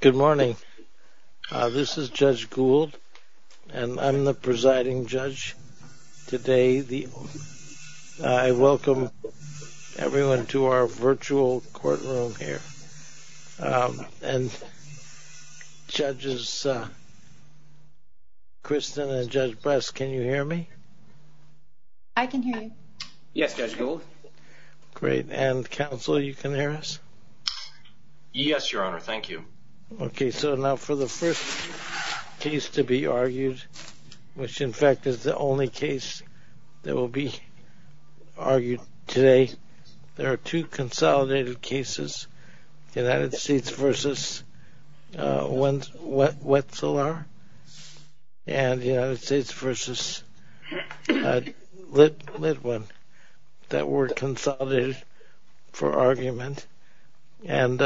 Good morning. This is Judge Gould and I'm the presiding judge today. I welcome everyone to our virtual courtroom here. Judges Kristen and Judge Bress, can you hear me? I can hear you. Yes, Judge Gould. Great. And Counselor, you can hear us? Yes, Your Honor. Thank you. Okay, so now for the first case to be argued, which in fact is the only case that will be argued today, there are two consolidated cases, United States v. Wetselaar and United States v. Litwin that were consolidated for argument. And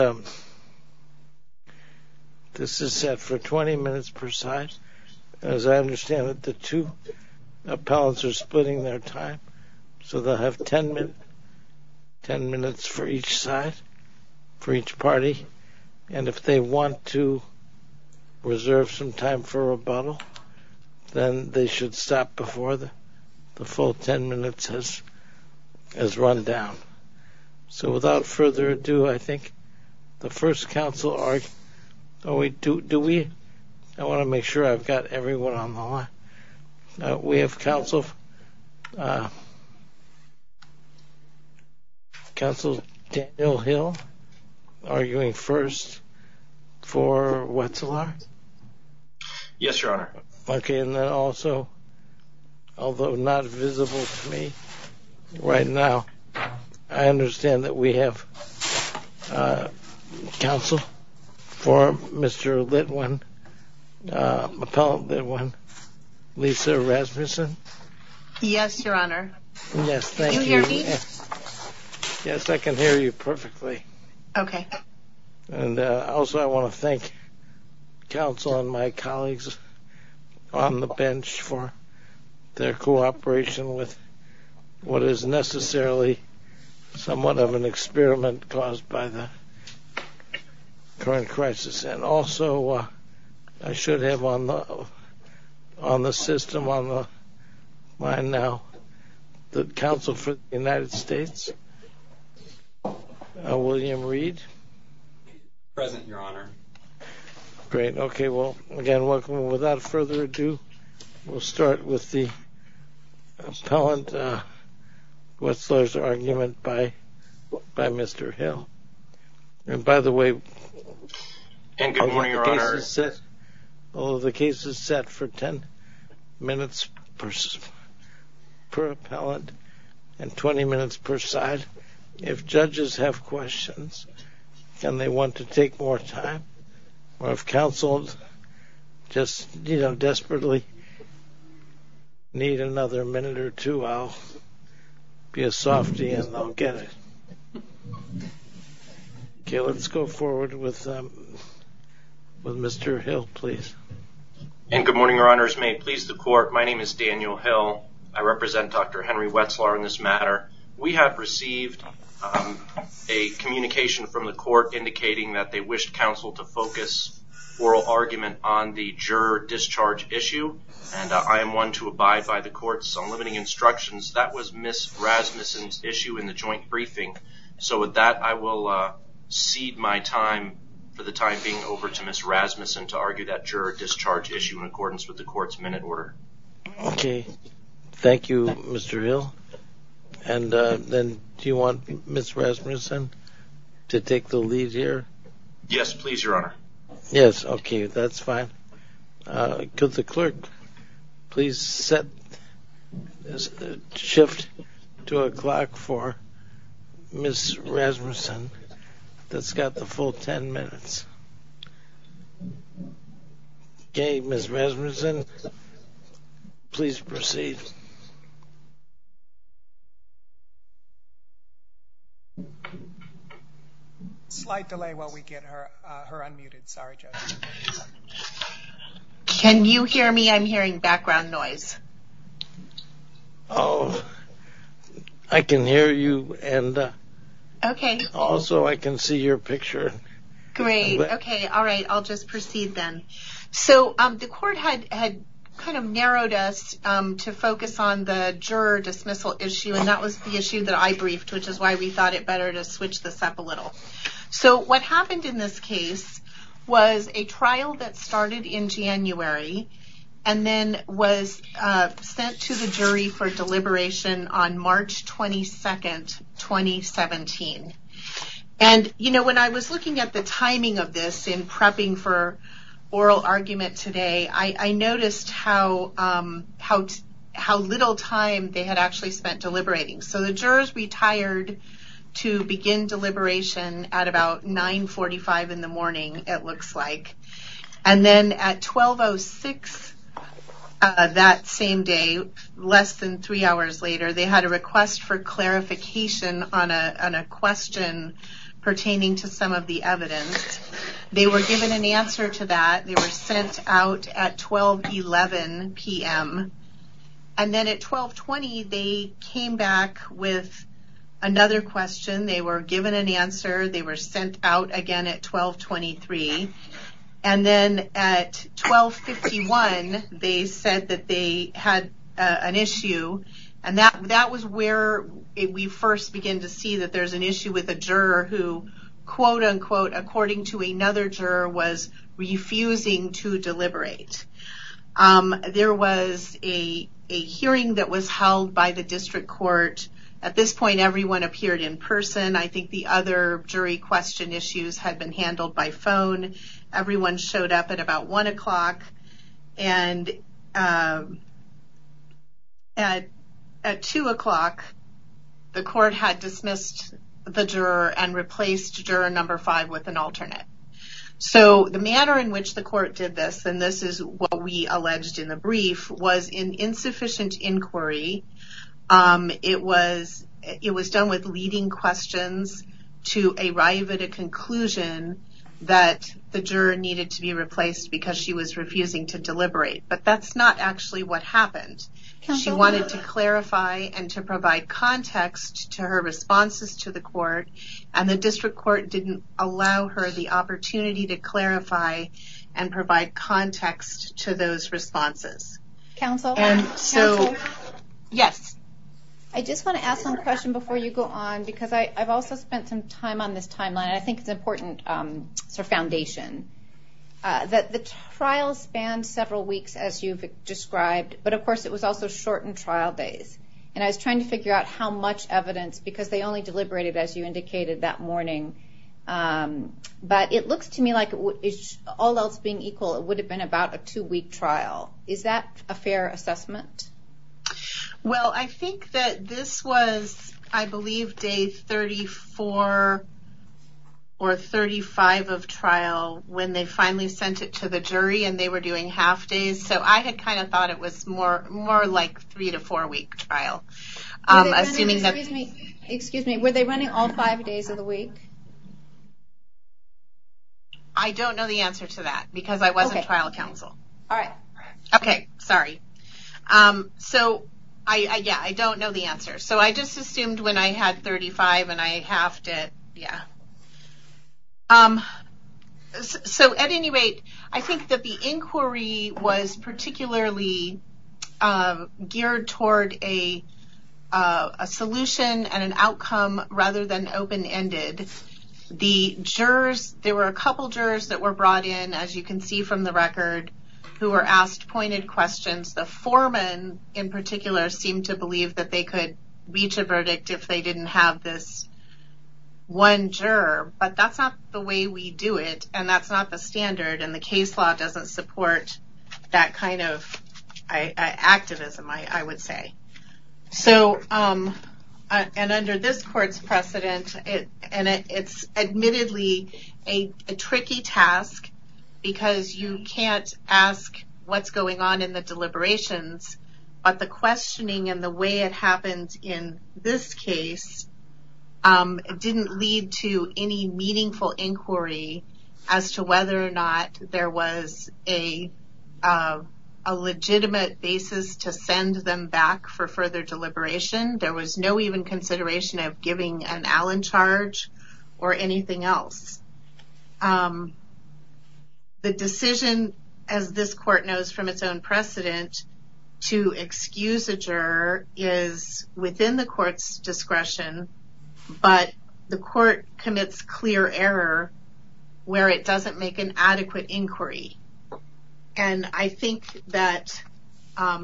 this is set for 20 minutes per side. As I understand it, the two appellants are splitting their time. So they'll have 10 minutes for each side, for each party. And if they want to reserve some time for rebuttal, then they should stop before the full 10 minutes has run down. So without further ado, I think the first counsel, do we? I want to make sure I've got everyone on the line. We have Counselor Daniel Hill arguing first for Wetselaar? Yes, Your Honor. Okay, and then also, although not visible to me right now, I understand that we have counsel for Mr. Litwin, appellant Litwin, Lisa Rasmussen? Yes, Your Honor. Can we hear you? Yes, I can hear you perfectly. Okay. And also I want to thank counsel and my colleagues on the bench for their cooperation with what is necessarily somewhat of an experiment caused by the current crisis. And also I should have on the system on the line now the counsel for the United States, William Reed? Present, Your Honor. Great. Okay. Well, again, without further ado, we'll start with the appellant Wetselaar's argument by Mr. Hill. And by the way, although the case is set for 10 minutes per appellant and 20 minutes per side, if judges have questions and they want to take more time, or if counsel just, you know, desperately need another minute or two, I'll be a softy and I'll get it. Okay, let's go forward with Mr. Hill, please. And good morning, Your Honors. May it please the court, my name is Daniel Hill. I represent Dr. Henry Wetselaar on this matter. We have received a communication from the court indicating that they wished counsel to focus oral argument on the juror discharge issue. And I am one to abide by the court's unlimiting instructions. That was Ms. Rasmussen's issue in the joint briefing. So with that, I will cede my time for the time being over to Ms. Rasmussen to argue that juror discharge issue in accordance with the court's minute order. Okay, thank you, Mr. Hill. And then do you want Ms. Rasmussen to take the lead here? Yes, please, Your Honor. Yes, okay, that's fine. Could the clerk please shift to a clock for Ms. Rasmussen that's got the full 10 minutes? Okay, Ms. Rasmussen, please proceed. Slight delay while we get her unmuted, sorry, Judge. Can you hear me? I'm hearing background noise. Oh, I can hear you, and also I can see your picture. Great, okay, all right, I'll just proceed then. So the court had kind of narrowed us to focus on the juror dismissal issue, and that was the issue that I briefed, which is why we thought it better to switch this up a little. So what happened in this case was a trial that started in January and then was sent to the jury for deliberation on March 22, 2017. And, you know, when I was looking at the timing of this in prepping for oral argument today, I noticed how little time they had actually spent deliberating. So the jurors retired to begin deliberation at about 9.45 in the morning, it looks like. And then at 12.06 that same day, less than three hours later, they had a request for clarification on a question pertaining to some of the evidence. And they were given an answer to that. They were sent out at 12.11 p.m. And then at 12.20 they came back with another question. They were given an answer. They were sent out again at 12.23. And then at 12.61 they said that they had an issue. And that was where we first began to see that there's an issue with a juror who, quote-unquote, according to another juror, was refusing to deliberate. There was a hearing that was held by the district court. At this point, everyone appeared in person. I think the other jury question issues had been handled by phone. Everyone showed up at about 1 o'clock. And at 2 o'clock, the court had dismissed the juror and replaced juror number five with an alternate. So the manner in which the court did this, and this is what we alleged in the brief, was in insufficient inquiry. It was done with leading questions to arrive at a conclusion that the juror needed to be replaced because she was refusing to deliberate. But that's not actually what happened. She wanted to clarify and to provide context to her responses to the court. And the district court didn't allow her the opportunity to clarify and provide context to those responses. Counsel? Counsel? Yes. I just want to ask one question before you go on, because I've also spent some time on this timeline. I think it's important for foundation. The trial spanned several weeks, as you've described. But, of course, it was also short in trial days. And I was trying to figure out how much evidence, because they only deliberated, as you indicated, that morning. But it looks to me like, all else being equal, it would have been about a two-week trial. Is that a fair assessment? Well, I think that this was, I believe, days 34 or 35 of trial, when they finally sent it to the jury and they were doing half days. So I had kind of thought it was more like a three- to four-week trial. Excuse me. Were they running all five days of the week? I don't know the answer to that, because I wasn't trial counsel. Okay. Sorry. So, yeah, I don't know the answer. So I just assumed when I had 35 and I halved it. Yeah. So, at any rate, I think that the inquiry was particularly geared toward a solution and an outcome rather than open-ended. The jurors, there were a couple jurors that were brought in, as you can see from the record, who were asked pointed questions. The foreman, in particular, seemed to believe that they could reach a verdict if they didn't have this one juror. But that's not the way we do it, and that's not the standard, and the case law doesn't support that kind of activism, I would say. So, and under this court's precedent, and it's admittedly a tricky task because you can't ask what's going on in the deliberations, but the questioning and the way it happens in this case didn't lead to any meaningful inquiry as to whether or not there was a legitimate basis to send them back for further deliberation. There was no even consideration of giving an Allen charge or anything else. The decision, as this court knows from its own precedent, to excuse a juror is within the court's discretion, but the court commits clear error where it doesn't make an adequate inquiry. And I think that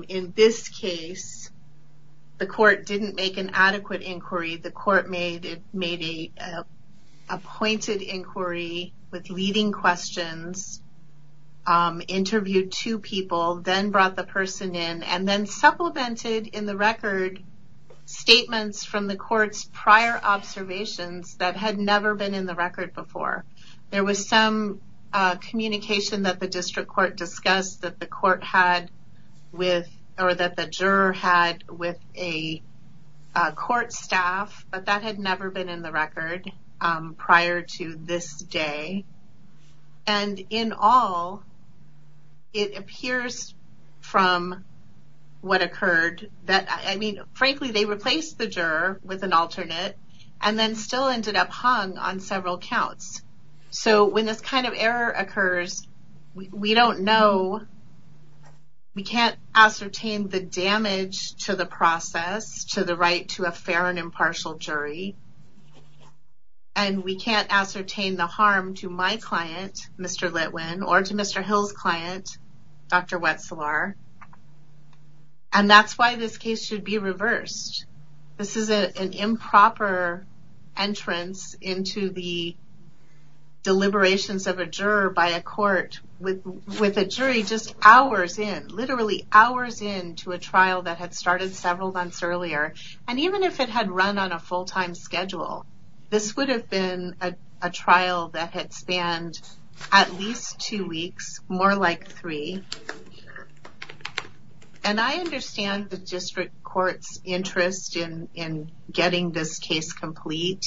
in this case, the court didn't make an adequate inquiry. The court made an appointed inquiry with leading questions, interviewed two people, then brought the person in, and then supplemented in the record statements from the court's prior observations that had never been in the record before. There was some communication that the district court discussed that the court had with, or that the juror had with a court staff, but that had never been in the record prior to this day, and in all, it appears from what occurred that, I mean, frankly, they replaced the juror with an alternate and then still ended up hung on several counts. So when this kind of error occurs, we don't know. We can't ascertain the damage to the process, to the right to a fair and impartial jury, and we can't ascertain the harm to my client, Mr. Litwin, or to Mr. Hill's client, Dr. Wetzlar. And that's why this case should be reversed. This is an improper entrance into the deliberations of a juror by a court with a jury just hours in, literally hours in to a trial that had started several months earlier. And even if it had run on a full-time schedule, this would have been a trial that had spanned at least two weeks, more like three. And I understand the district court's interest in getting this case complete.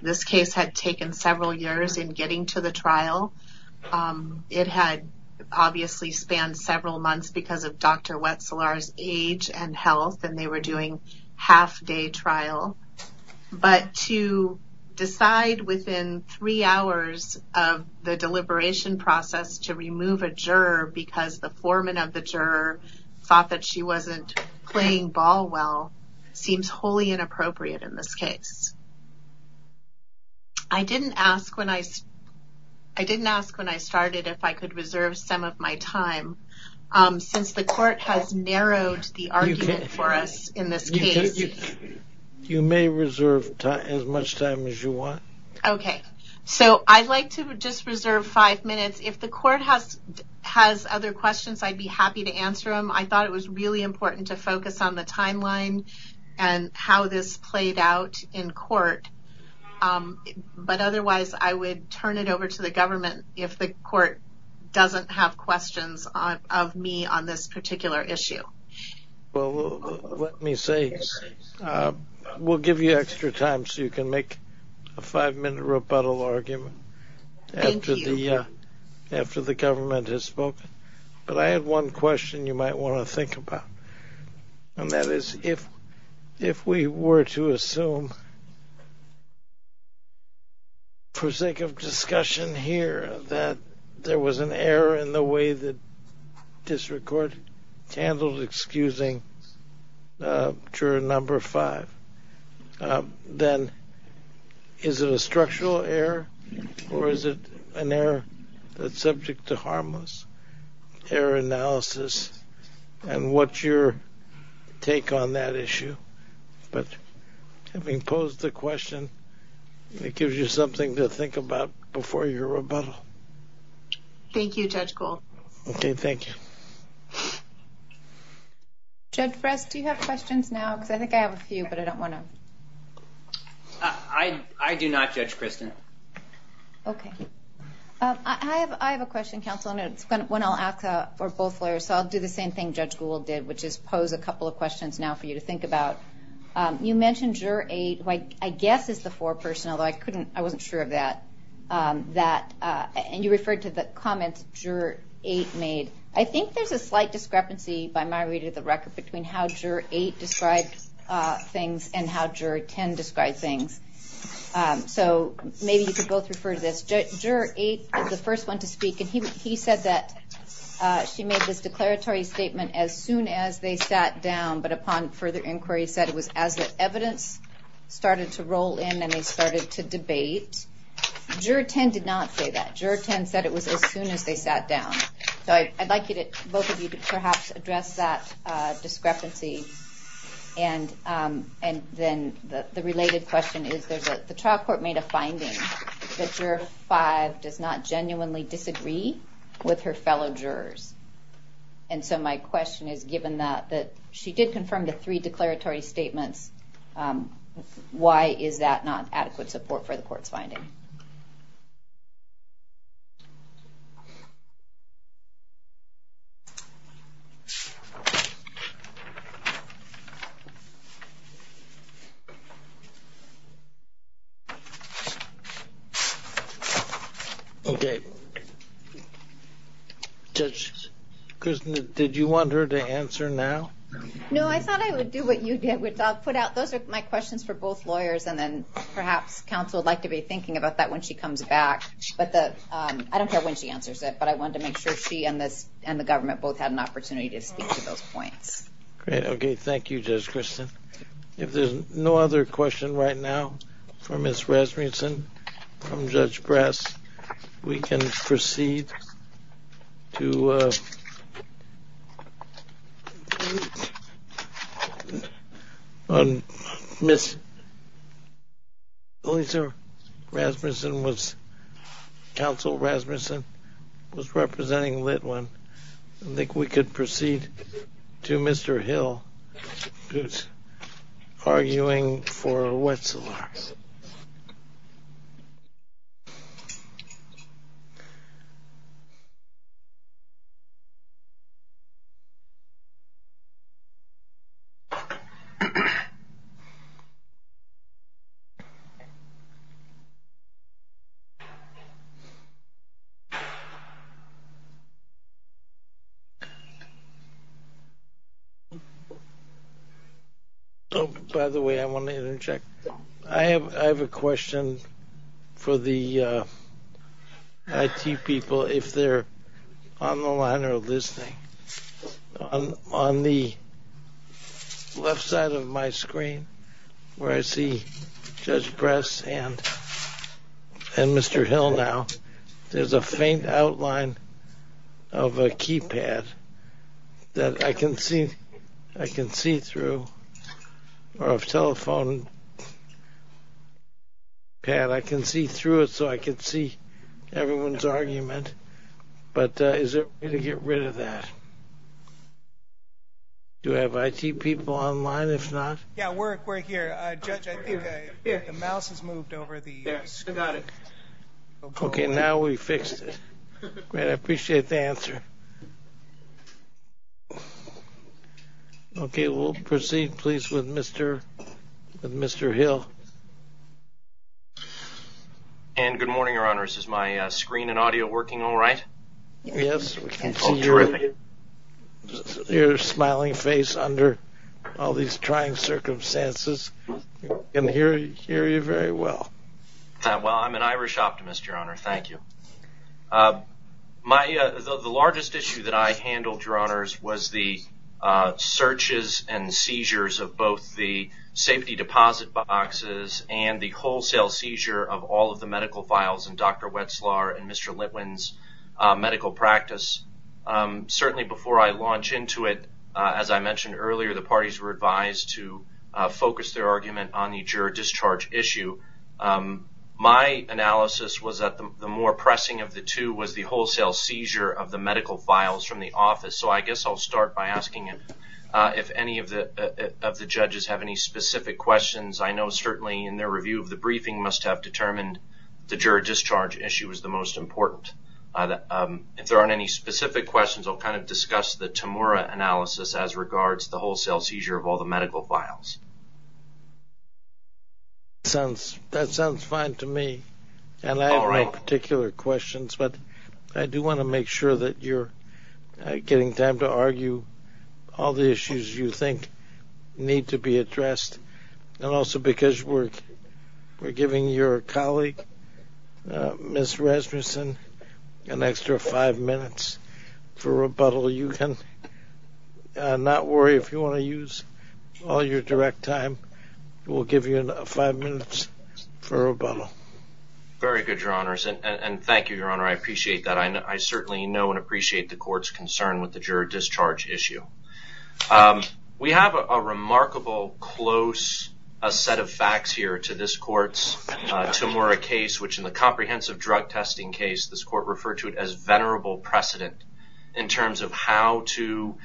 This case had taken several years in getting to the trial. It had obviously spanned several months because of Dr. Wetzlar's age and health, and they were doing half-day trial. But to decide within three hours of the deliberation process to remove a juror because the foreman of the juror thought that she wasn't playing ball well seems wholly inappropriate in this case. I didn't ask when I started if I could reserve some of my time since the court has narrowed the argument for us in this case. You may reserve as much time as you want. Okay. So I'd like to just reserve five minutes. If the court has other questions, I'd be happy to answer them. I thought it was really important to focus on the timeline and how this played out in court. But otherwise, I would turn it over to the government if the court doesn't have questions of me on this particular issue. Well, let me say, we'll give you extra time so you can make a five-minute rebuttal argument after the government has spoken. But I have one question you might want to think about, and that is if we were to assume for sake of discussion here that there was an error in the way that district court handled excusing juror number five, then is it a structural error or is it an error that's subject to harmless error analysis? And what's your take on that issue? But having posed the question, it gives you something to think about before your rebuttal. Thank you, Judge Gold. Okay, thank you. Judge Press, do you have questions now? Because I think I have a few, but I don't want to... I do not, Judge Kristen. Okay. I have a question, counsel, and it's one I'll ask for both lawyers. So I'll do the same thing Judge Gould did, which is pose a couple of questions now for you to think about. You mentioned juror eight, who I guess is the four personnel, but I wasn't sure of that. And you referred to the comments juror eight made. I think there's a slight discrepancy, by my reading of the record, between how juror eight described things and how juror 10 described things. So maybe you could both refer to this. Juror eight was the first one to speak, and he said that she made this declaratory statement as soon as they sat down, but upon further inquiry said it was as the evidence started to roll in and they started to debate. Juror 10 did not say that. Juror 10 said it was as soon as they sat down. So I'd like both of you to perhaps address that discrepancy. And then the related question is that the trial court made a finding that juror five does not genuinely disagree with her fellow jurors. And so my question is, given that she did confirm the three declaratory statements, why is that not adequate support for the court finding? Thank you. Okay. Judge Kristin, did you want her to answer now? No, I thought I would do what you did. Those are my questions for both lawyers, and then perhaps counsel would like to be thinking about that when she comes back. I don't care when she answers it, but I wanted to make sure she and the government both had an opportunity to speak to those points. Okay, thank you, Judge Kristin. If there's no other question right now for Ms. Rasmussen from Judge Grass, we can proceed to Ms. Lutzer. Counsel Rasmussen was representing Litwin. I think we could proceed to Mr. Hill who's arguing for Wetzlar. Okay. By the way, I have a question for the IT people if they're on the line or listening. On the left side of my screen where I see Judge Grass and Mr. Hill now, there's a faint outline of a keypad that I can see through, or a telephone pad. I can see through it so I can see everyone's argument, but is there any way to get rid of that? Do we have IT people on the line? Yeah, we're here. Judge, I think the mouse has moved over. Okay, now we fixed it. I appreciate the answer. Okay, we'll proceed, please, with Mr. Hill. And good morning, Your Honor. Is my screen and audio working all right? Yes, we can see your smiling face under all these trying circumstances. We can hear you very well. Well, I'm an Irish optimist, Your Honor. Thank you. The largest issue that I handled, Your Honors, was the searches and seizures of both the safety deposit boxes and the wholesale seizure of all of the medical files in Dr. Wetzlar and Mr. Litwin's medical practice. Certainly before I launched into it, as I mentioned earlier, the parties were advised to focus their argument on the juror discharge issue. My analysis was that the more pressing of the two was the wholesale seizure of the medical files from the office. So I guess I'll start by asking if any of the judges have any specific questions. I know certainly in their review of the briefing must have determined the juror discharge issue was the most important. If there aren't any specific questions, I'll kind of discuss the Temura analysis as regards the wholesale seizure of all the medical files. That sounds fine to me, and I have my particular questions, but I do want to make sure that you're getting time to argue all the issues you think need to be addressed. And also because we're giving your colleague, Ms. Rasmussen, an extra five minutes for rebuttal, you can not worry if you want to use all your direct time. We'll give you five minutes for rebuttal. Very good, Your Honors, and thank you, Your Honor. I appreciate that. I certainly know and appreciate the court's concern with the juror discharge issue. We have a remarkable, close set of facts here to this court's Temura case, which in the comprehensive drug testing case, this court referred to it as venerable precedent in terms of how to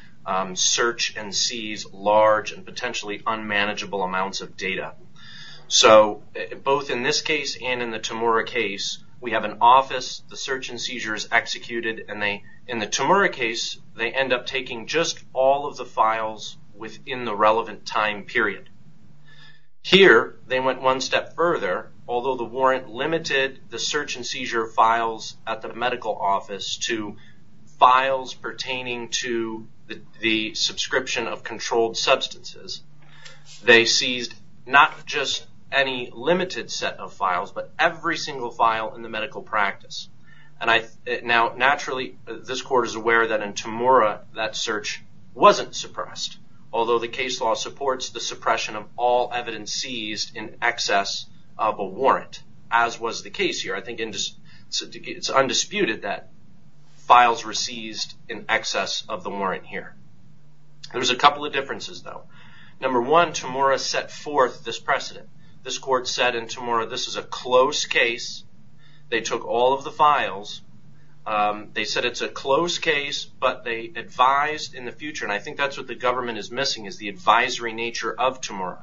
search and seize large and potentially unmanageable amounts of data. So both in this case and in the Temura case, we have an office, the search and seizure is executed, and in the Temura case they end up taking just all of the files within the relevant time period. Here, they went one step further. Although the warrant limited the search and seizure files at the medical office to files pertaining to the subscription of controlled substances, they seized not just any limited set of files, but every single file in the medical practice. Now, naturally, this court is aware that in Temura that search wasn't suppressed. Although the case law supports the suppression of all evidence seized in excess of a warrant, as was the case here. I think it's undisputed that files were seized in excess of the warrant here. There was a couple of differences, though. Number one, Temura set forth this precedent. This court said in Temura this is a close case. They took all of the files. They said it's a close case, but they advised in the future, and I think that's what the government is missing is the advisory nature of Temura.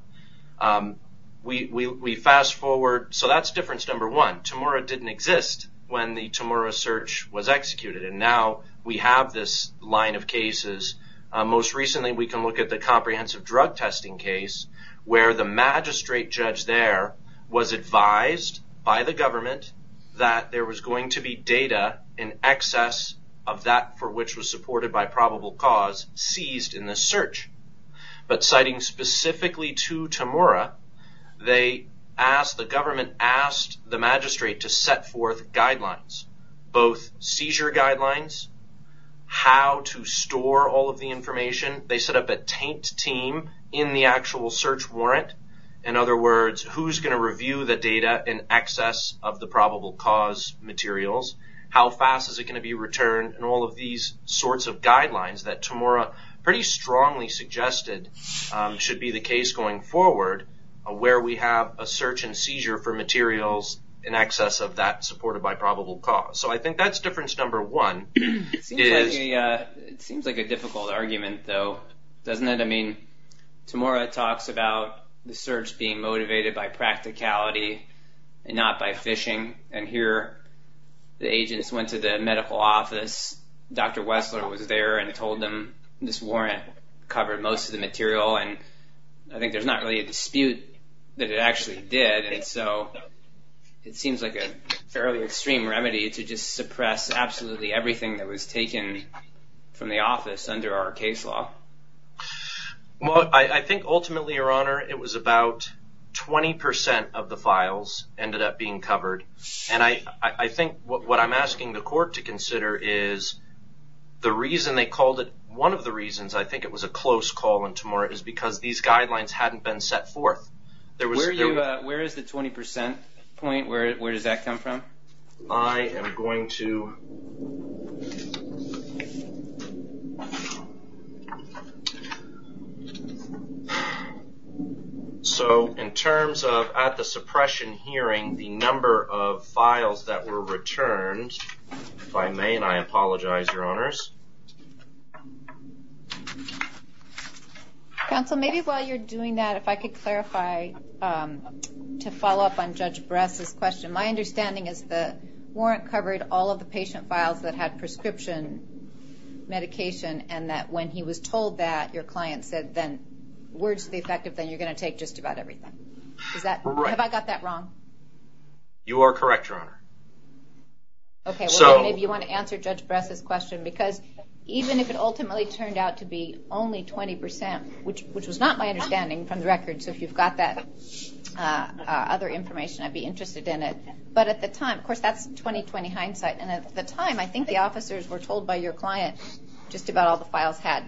We fast forward, so that's difference number one. Temura didn't exist when the Temura search was executed, and now we have this line of cases. Most recently we can look at the comprehensive drug testing case where the magistrate judge there was advised by the government that there was going to be data in excess of that for which was supported by probable cause seized in the search. But citing specifically to Temura, the government asked the magistrate to set forth guidelines, both seizure guidelines, how to store all of the information. They set up a tanked team in the actual search warrant. In other words, who's going to review the data in excess of the probable cause materials, how fast is it going to be returned, and all of these sorts of guidelines that Temura pretty strongly suggested should be the case going forward where we have a search and seizure for materials in excess of that supported by probable cause. So I think that's difference number one. It seems like a difficult argument, though, doesn't it? I mean, Temura talks about the search being motivated by practicality and not by phishing, and here the agents went to the medical office. Dr. Westler was there and told them this warrant covered most of the material, and I think there's not really a dispute that it actually did. And so it seems like a fairly extreme remedy to just suppress absolutely everything that was taken from the office under our case law. Well, I think ultimately, Your Honor, it was about 20% of the files ended up being covered, and I think what I'm asking the court to consider is the reason they called it, one of the reasons I think it was a close call on Temura is because these guidelines hadn't been set forth. Where is the 20% point? Where does that come from? I am going to... So in terms of at the suppression hearing, the number of files that were returned, if I may, and I apologize, Your Honors. Counsel, maybe while you're doing that, if I could clarify, to follow up on Judge Barresa's question, my understanding is the warrant covered all of the patient files that had prescription medication and that when he was told that, your client said then, we're going to take just about everything. Have I got that wrong? You are correct, Your Honor. Okay, well, maybe you want to answer Judge Barresa's question, because even if it ultimately turned out to be only 20%, which was not my understanding from the record, so if you've got that other information, I'd be interested in it. But at the time, of course, that's 20-20 hindsight, and at the time, I think the officers were told by your client just about all the files had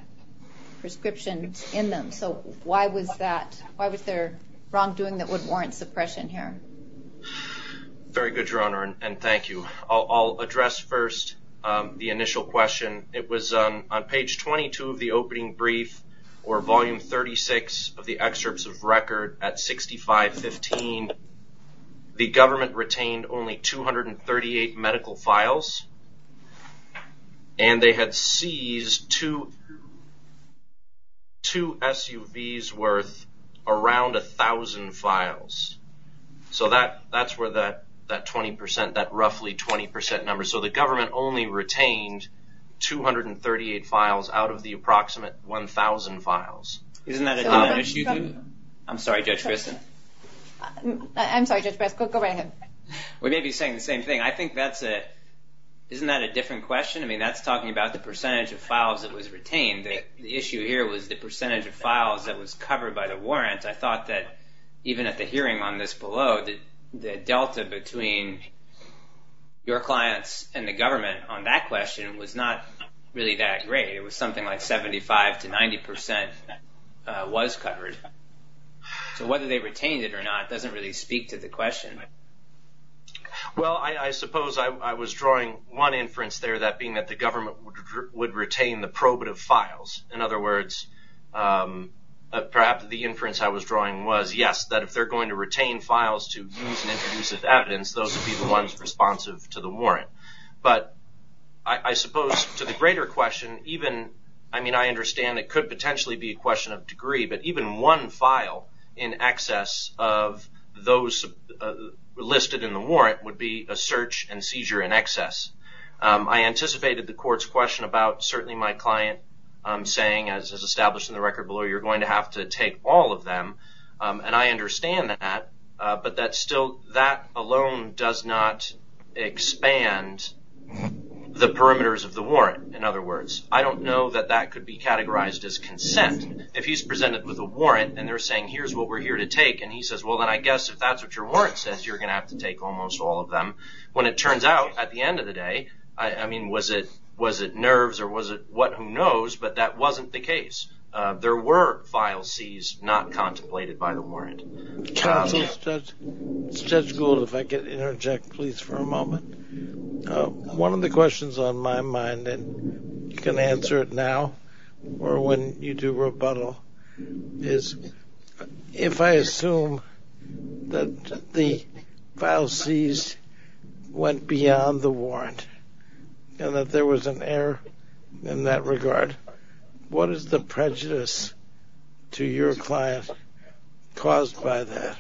prescription in them. So why was there wrongdoing that would warrant suppression here? Very good, Your Honor, and thank you. I'll address first the initial question. It was on page 22 of the opening brief or volume 36 of the excerpts of record at 6515. The government retained only 238 medical files, and they had seized two SUVs worth around 1,000 files. So that's where that 20%, that roughly 20% number. So the government only retained 238 files out of the approximate 1,000 files. Isn't that another issue? I'm sorry, Judge Barresa. I'm sorry, Judge Barresa. Go right ahead. We may be saying the same thing. I think that's a – isn't that a different question? I mean, that's talking about the percentage of files that was retained. The issue here was the percentage of files that was covered by the warrants. I thought that even at the hearing on this below, the delta between your clients and the government on that question was not really that great. It was something like 75% to 90% was covered. So whether they retained it or not doesn't really speak to the question. Well, I suppose I was drawing one inference there, that being that the government would retain the probative files. In other words, perhaps the inference I was drawing was, yes, that if they're going to retain files to use in intrusive evidence, those would be the ones responsive to the warrant. But I suppose to the greater question, even – I mean, I understand it could potentially be a question of degree, but even one file in excess of those listed in the warrant would be a search and seizure in excess. I anticipated the court's question about certainly my client saying, as is established in the record below, you're going to have to take all of them. And I understand that, but that still – that alone does not expand the perimeters of the warrant. In other words, I don't know that that could be categorized as consent. If he's presented with a warrant and they're saying, here's what we're here to take, and he says, well, then I guess if that's what your warrant says, you're going to have to take almost all of them. When it turns out, at the end of the day, I mean, was it nerves or was it what? Who knows? But that wasn't the case. There were file Cs not contemplated by the warrant. Judge Gould, if I could interject, please, for a moment. One of the questions on my mind, and you can answer it now or when you do rebuttal, is if I assume that the file Cs went beyond the warrant and that there was an error in that regard, what is the prejudice to your client caused by that?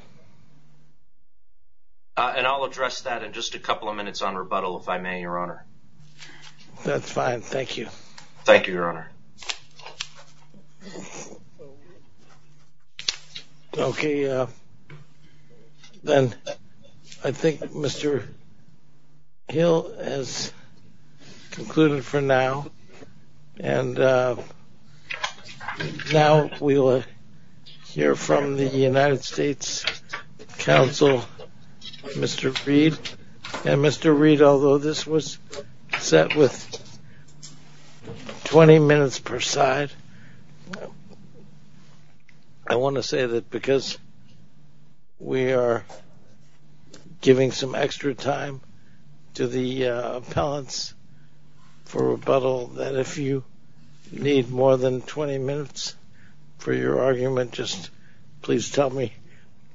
And I'll address that in just a couple of minutes on rebuttal, if I may, Your Honor. That's fine. Thank you. Thank you, Your Honor. Okay. Then I think Mr. Hill has concluded for now, and now we'll hear from the United States Counsel, Mr. Reed. And Mr. Reed, although this was set with 20 minutes per side, I want to say that because we are giving some extra time to the appellants for rebuttal, that if you need more than 20 minutes for your argument, just please tell me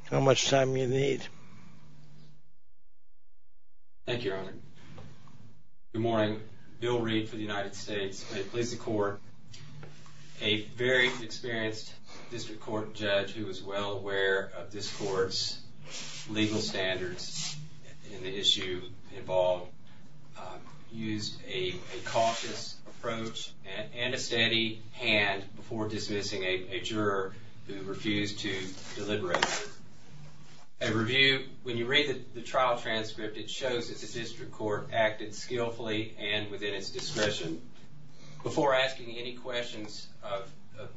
how much time you need. Thank you, Your Honor. Good morning. Bill Reed for the United States State Police and Court. A very experienced district court judge who is well aware of this court's legal standards and the issues involved used a cautious approach and a steady hand before dismissing a juror who refused to deliberate. A review, when you read the trial transcript, it shows that the district court acted skillfully and within its discretion. Before asking any questions of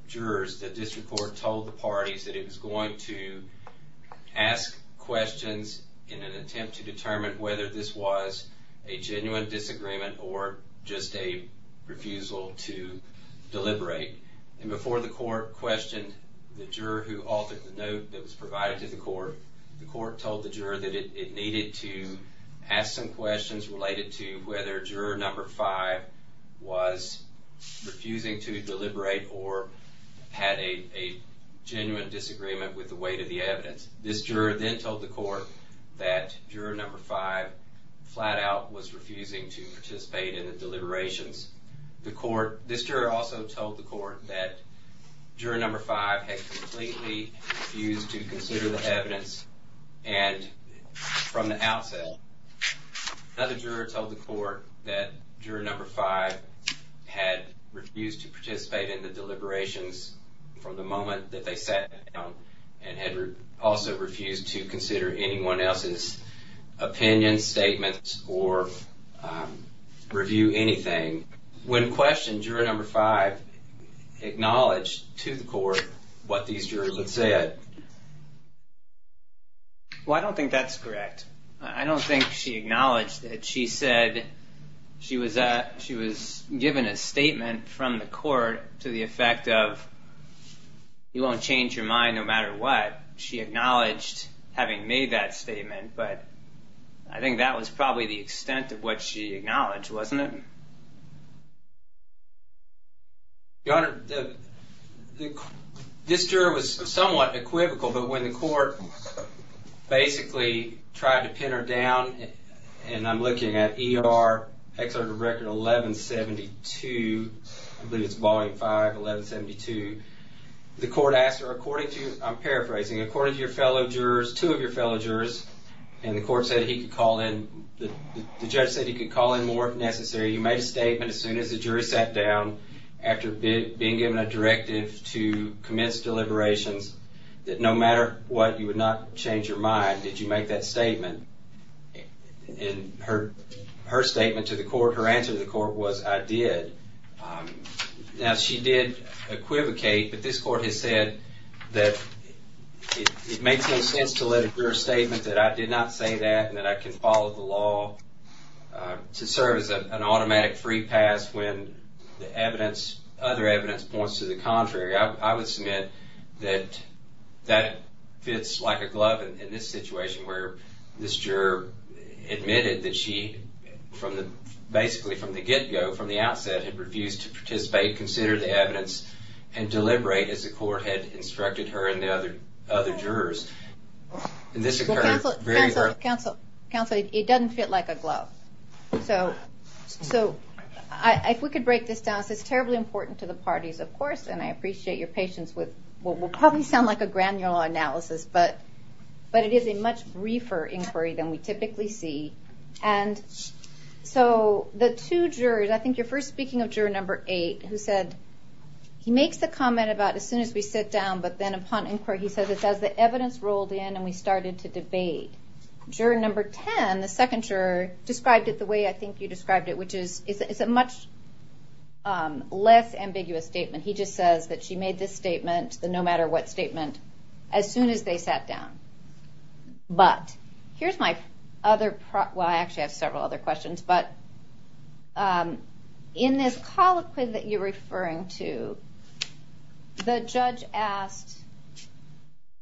jurors, the district court told the parties that it was going to ask questions in an attempt to determine whether this was a genuine disagreement or just a refusal to deliberate. And before the court questioned the juror who altered the note that was provided to the court, the court told the juror that it needed to ask some questions related to whether juror number five was refusing to deliberate or had a genuine disagreement with the weight of the evidence. This juror then told the court that juror number five flat out was refusing to participate in the deliberations. This juror also told the court that juror number five had completely refused to consider the evidence from the outfield. Another juror told the court that juror number five had refused to participate in the deliberations from the moment that they sat down and had also refused to consider anyone else's opinion, statements, or review anything. When questioned, juror number five acknowledged to the court what these jurors had said. Well, I don't think that's correct. I don't think she acknowledged it. She said she was given a statement from the court to the effect of, you won't change your mind no matter what. She acknowledged having made that statement, but I think that was probably the extent of what she acknowledged, wasn't it? Your Honor, this juror was somewhat equivocal, but when the court basically tried to pin her down, and I'm looking at ER Excerpt of Record 1172, I believe it's Volume 5, 1172, the court asked, or according to, I'm paraphrasing, according to your fellow jurors, two of your fellow jurors, and the court said he could call in, the judge said he could call in more if necessary. He made a statement as soon as the jury sat down, after being given a directive to commence deliberations, that no matter what, you would not change your mind if you made that statement. And her statement to the court, her answer to the court was, I did. Now, she did equivocate, but this court has said that it makes no sense to let a clear statement that I did not say that and that I can follow the law to serve as an automatic free pass when the evidence, other evidence, points to the contrary. I would submit that that fits like a glove in this situation where this juror admitted that she, basically from the get-go, from the outset, had refused to participate, consider the evidence, and deliberate as the court had instructed her and the other jurors. Counsel, it doesn't fit like a glove. So, if we could break this down, it's terribly important to the parties, of course, and I appreciate your patience with what will probably sound like a granular analysis, but it is a much briefer inquiry than we typically see. And so, the two jurors, I think you're first speaking of juror number eight, who said, he makes a comment about as soon as we sit down, but then upon inquiry, he says, as the evidence rolled in and we started to debate. Juror number 10, the second juror, described it the way I think you described it, which is, it's a much less ambiguous statement. He just says that she made this statement, the no matter what statement, as soon as they sat down. But, here's my other, well, I actually have several other questions, but in this colloquy that you're referring to, the judge asked,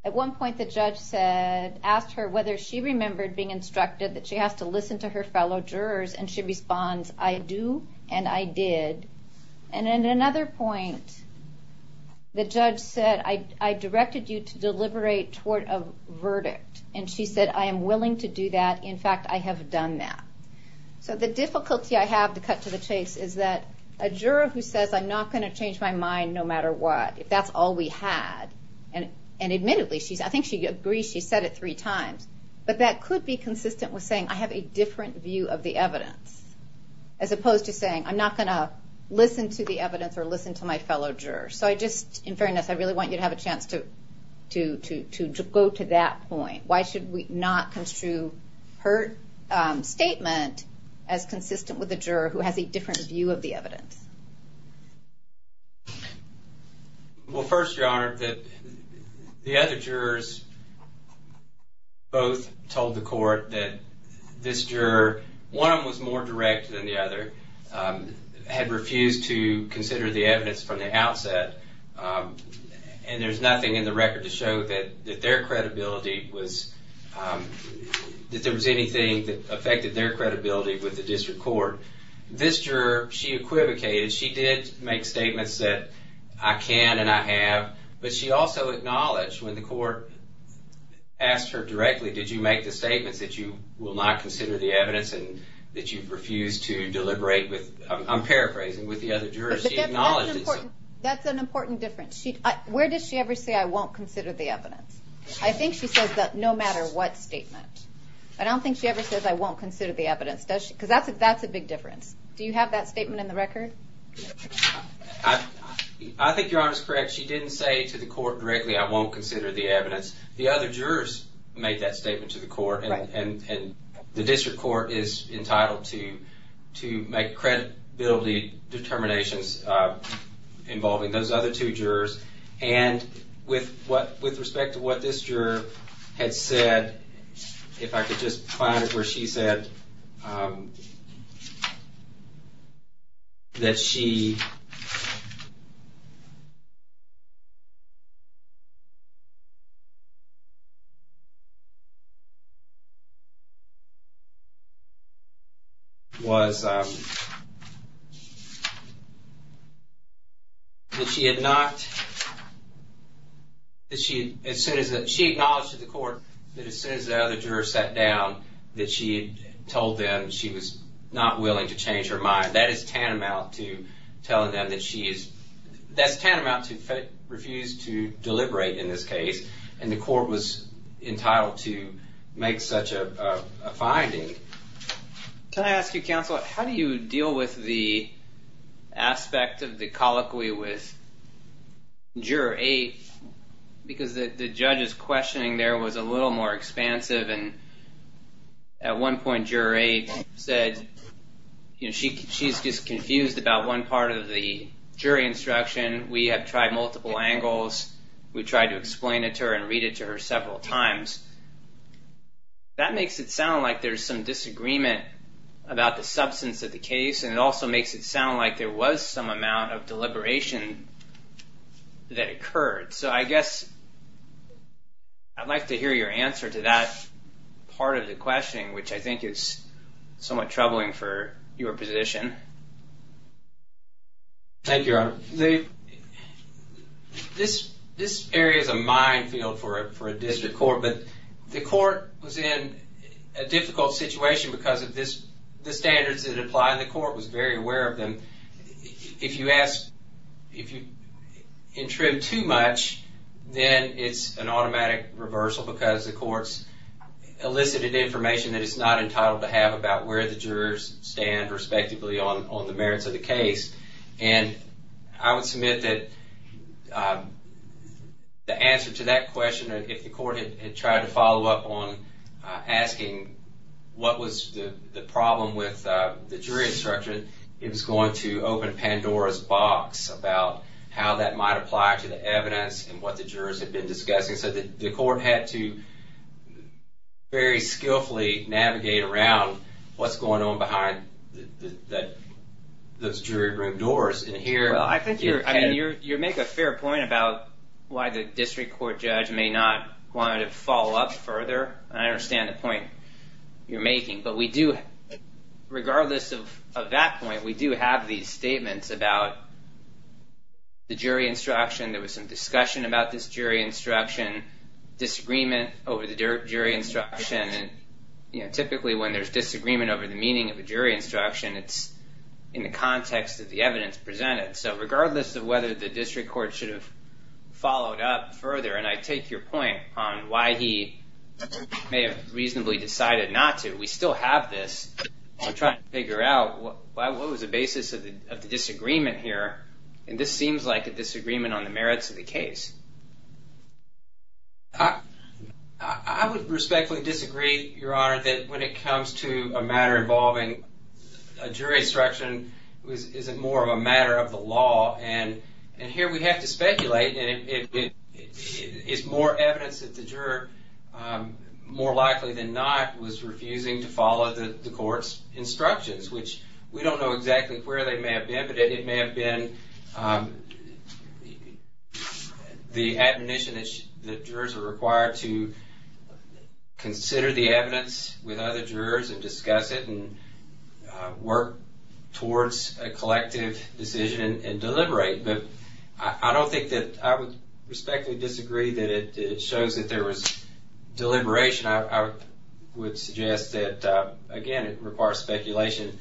at one point the judge said, asked her whether she remembered being instructed that she has to listen to her fellow jurors, and she responds, I do, and I did. And then, at another point, the judge said, I directed you to deliberate toward a verdict, and she said, I am willing to do that, in fact, I have done that. So, the difficulty I have to cut to the chase is that a juror who says, I'm not going to change my mind no matter what, if that's all we had, and admittedly, I think she agreed, she said it three times, but that could be consistent with saying, I have a different view of the evidence, as opposed to saying, I'm not going to listen to the evidence or listen to my fellow jurors. So, I just, in fairness, I really want you to have a chance to go to that point. Why should we not construe her statement as consistent with a juror who has a different view of the evidence? Well, first, Your Honor, the other jurors both told the court that this juror, one of them was more direct than the other, had refused to consider the evidence from the outset, and there's nothing in the record to show that their credibility was, that there was anything that affected their credibility with the district court. This juror, she equivocated, she did make statements that, I can and I have, but she also acknowledged when the court asked her directly, did you make the statement that you will not consider the evidence and that you refused to deliberate with, I'm paraphrasing, with the other jurors. That's an important difference. Where does she ever say, I won't consider the evidence? I think she says that no matter what statement. I don't think she ever says, I won't consider the evidence, does she? Because that's a big difference. Do you have that statement in the record? I think Your Honor is correct. She didn't say to the court directly, I won't consider the evidence. The other jurors made that statement to the court, and the district court is entitled to make credibility determinations involving those other two jurors. And with respect to what this juror had said, if I could just find it where she said, that she, was, that she had not, that she, as soon as, she acknowledged to the court that as soon as the other jurors sat down, that she had told them she was not willing to change her mind. That is tantamount to telling them that she is, that's tantamount to refuse to deliberate in this case. And the court was entitled to make such a finding. Can I ask you, Counselor, how do you deal with the aspect of the colloquy with Juror 8? Because the judge's questioning there was a little more expansive, and at one point Juror 8 said, she's just confused about one part of the jury instruction. We have tried multiple angles. We tried to explain it to her and read it to her several times. That makes it sound like there's some disagreement about the substance of the case, and it also makes it sound like there was some amount of deliberation that occurred. So I guess, I'd like to hear your answer to that part of the questioning, which I think is somewhat troubling for your position. Thank you, Robert. This area is a minefield for a district court, but the court was in a difficult situation because the standards that apply in the court was very aware of them. If you ask, if you intrude too much, then it's an automatic reversal because the court's elicited information that it's not entitled to have about where the jurors stand respectively on the merits of the case. And I would submit that the answer to that question, if the court had tried to follow up on asking what was the problem with the jury instruction, it was going to open Pandora's box about how that might apply to the evidence and what the jurors had been discussing. The court had to very skillfully navigate around what's going on behind those jury-driven doors. I think you make a fair point about why the district court judge may not want to follow up further. I understand the point you're making, but we do, regardless of that point, we do have these statements about the jury instruction. There was some discussion about this jury instruction, disagreement over the jury instruction, and typically when there's disagreement over the meaning of a jury instruction, it's in the context of the evidence presented. So regardless of whether the district court should have followed up further, and I take your point on why he may have reasonably decided not to, we still have this. I'm trying to figure out what was the basis of the disagreement here, and this seems like a disagreement on the merits of the case. I would respectfully disagree, Your Honor, but I find that when it comes to a matter involving a jury instruction, it's more of a matter of the law, and here we have to speculate. If more evidence that the juror, more likely than not, was refusing to follow the court's instructions, which we don't know exactly where they may have been, but it may have been the admonition that jurors are required to consider the evidence with other jurors and discuss it and work towards a collective decision and deliberate. But I don't think that, I would respectfully disagree that it shows that there was deliberation. I would suggest that, again, it requires speculation.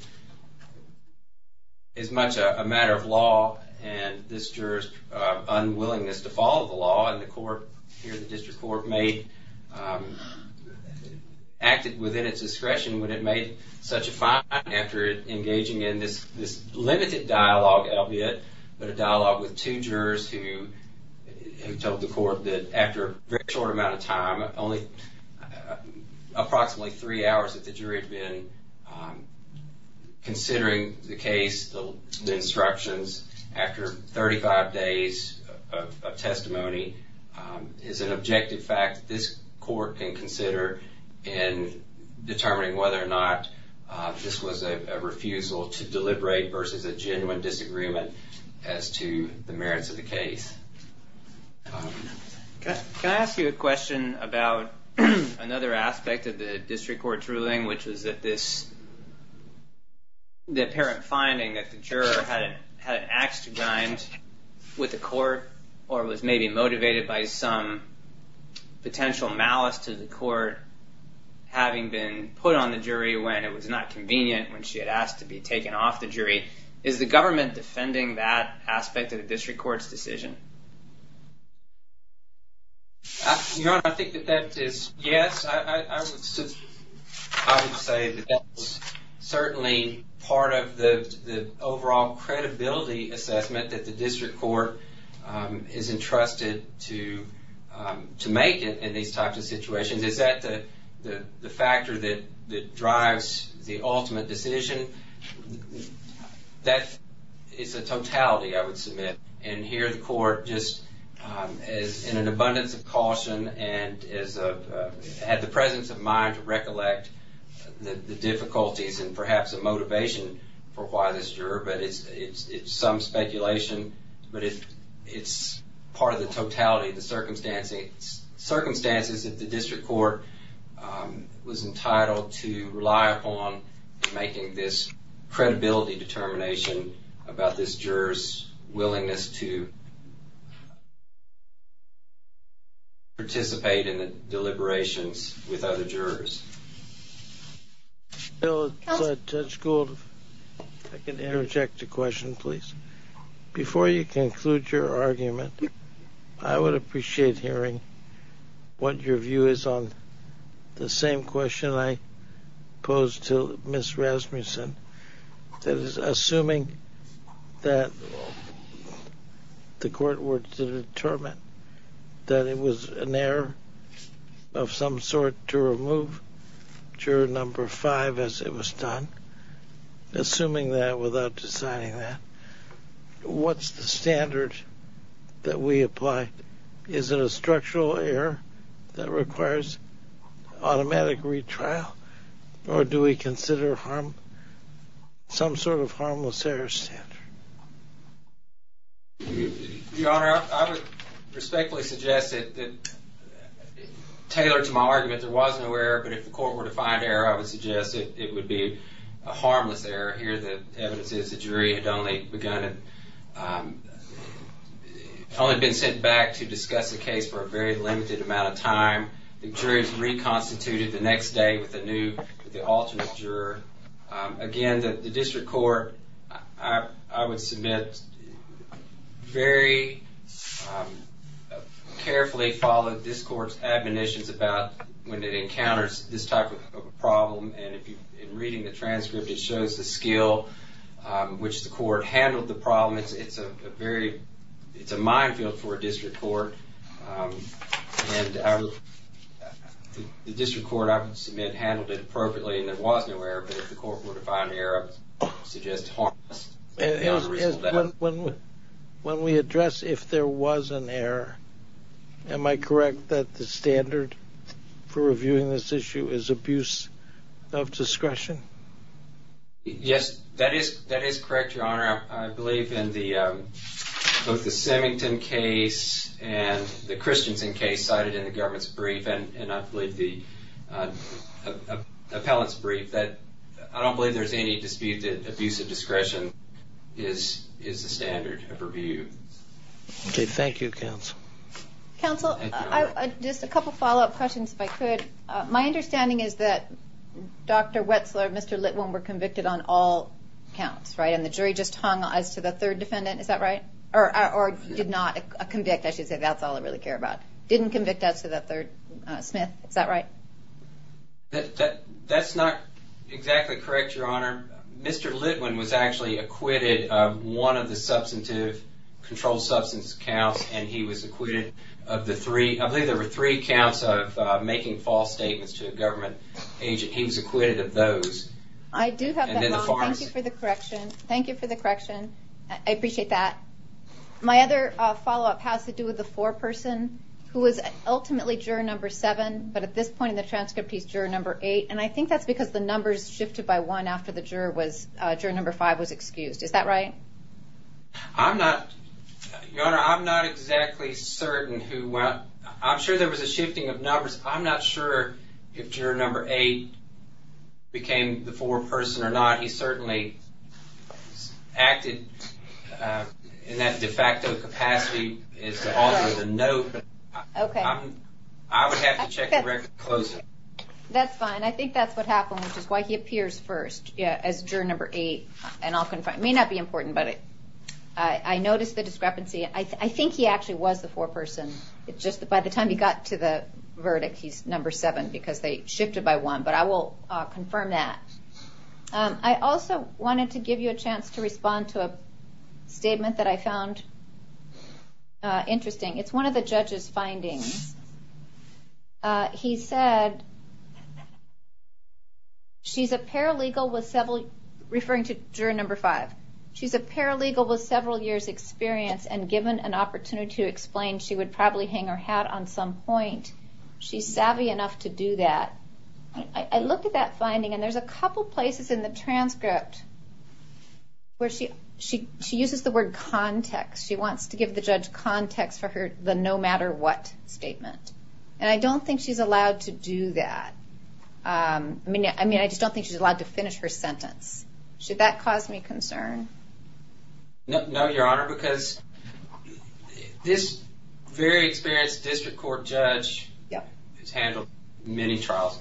It's much a matter of law, and this juror's unwillingness to follow the law, and the court, here the district court, may act within its discretion, but it made such a fine effort engaging in this limited dialogue, albeit a dialogue with two jurors who told the court that after a very short amount of time, only approximately three hours that the jury had been considering the case, the instructions, after 35 days of testimony, is an objective fact that this court can consider in determining whether or not this was a refusal to deliberate versus a genuine disagreement as to the merits of the case. Can I ask you a question about another aspect of the district court's ruling, which is that this, the apparent finding that the juror had an axe to grind with the court or was maybe motivated by some potential malice to the court having been put on the jury when it was not convenient when she had asked to be taken off the jury. Is the government defending that aspect of the district court's decision? Your Honor, I think that that is yes. I would say that that was certainly part of the overall credibility assessment at the district court that the court is entrusted to make in these types of situations. Is that the factor that drives the ultimate decision? That is a totality, I would submit. And here the court just is in an abundance of caution and has the presence of mind to recollect the difficulties and perhaps the motivation for why this juror, but it's some speculation, but it's part of the totality of the circumstances that the district court was entitled to rely upon in making this credibility determination about this juror's willingness to participate in the deliberations with other jurors. Bill, is that schooled? I can interject a question, please. Before you conclude your argument, I would appreciate hearing what your view is on the same question I posed to Ms. Rasmussen, that is, assuming that the court were to determine that it was an error of some sort to remove juror number five as it was done, assuming that without deciding that, what's the standard that we apply? Is it a structural error that requires automatic retrial, or do we consider some sort of harmless error standard? Your Honor, I would respectfully suggest that tailored to my argument, there was no error, but if the court were to find error, a harmless error, here the evidence is the jury had only begun, only been sent back to discuss the case for a very limited amount of time. The jury was reconstituted the next day with a new, the ultimate juror. Again, the district court, I would submit, very carefully followed this court's admonitions about when it encounters this type of problem, it shows the skill which the court handled the problem. It's a very, it's a minefield for a district court, and the district court, I would submit, handled it appropriately, and it wasn't an error, but if the court were to find error, it suggests harmless error. When we address if there was an error, am I correct that the standard for reviewing this issue is abuse of discretion? Yes, that is correct, Your Honor. I believe in both the Semington case and the Christensen case cited in the government's brief, and I believe the appellate's brief, that I don't believe there's any abuse of discretion is the standard of review. Okay, thank you, counsel. Counsel, just a couple of follow-up questions, if I could. My understanding is that Dr. Wetzler and Mr. Litwin were convicted on all counts, right? And the jury just hung eyes to the third defendant, is that right? Or did not convict, I should say, that's all I really care about. Didn't convict as to the third, Smith, is that right? That's not exactly correct, Your Honor. Mr. Litwin was actually acquitted of one of the substantive, controlled substance counts, and he was acquitted of the three, I believe there were three counts of making false statements and he was acquitted of those. I do have that, thank you for the correction. Thank you for the correction. I appreciate that. My other follow-up has to do with the foreperson who was ultimately juror number seven, but at this point in the transcript he's juror number eight, and I think that's because the numbers shifted by one after the juror number five was excused, is that right? I'm not, Your Honor, I'm not exactly certain who, I'm sure there was a shifting of numbers, but I don't know if he became the foreperson or not. He certainly acted in that de facto capacity as the author of the note. Okay. I would have to check the record closely. That's fine, I think that's what happened, which is why he appears first as juror number eight. It may not be important, but I noticed the discrepancy. I think he actually was the foreperson, it's just that by the time he got to the verdict he's number seven so I'll confirm that. I also wanted to give you a chance to respond to a statement that I found interesting. It's one of the judge's findings. He said, she's a paralegal with several, referring to juror number five, she's a paralegal with several years experience and given an opportunity to explain she would probably hang her hat on some point. She's savvy enough to do that. I looked at that finding and there's a couple places in the transcript where she uses the word context. She wants to give the judge context for the no matter what statement. I don't think she's allowed to do that. I mean, I just don't think she's allowed to finish her sentence. Should that cause me concern? No, Your Honor, because this very experienced district court judge has handled many trials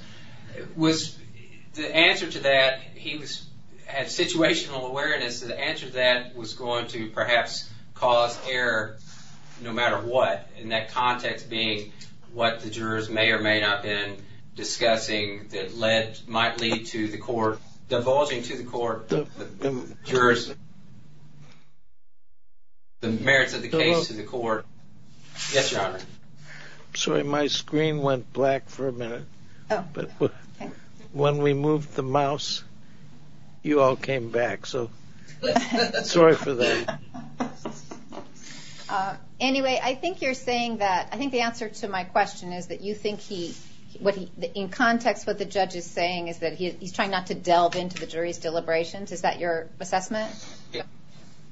with the answer to that, he had situational awareness that the answer to that was going to perhaps cause error no matter what, and that context being what the jurors may or may not have been discussing that might lead to the court, divulging to the court, the jurors, the merits of the case to the court. Yes, Your Honor. I'm sorry. My screen went black for a minute. When we moved the mouse, you all came back, so sorry for that. Anyway, I think you're saying that, I think the answer to my question is that you think he, in context of what the judge is saying is that he's trying not to delve into the jury's deliberations. Is that your assessment?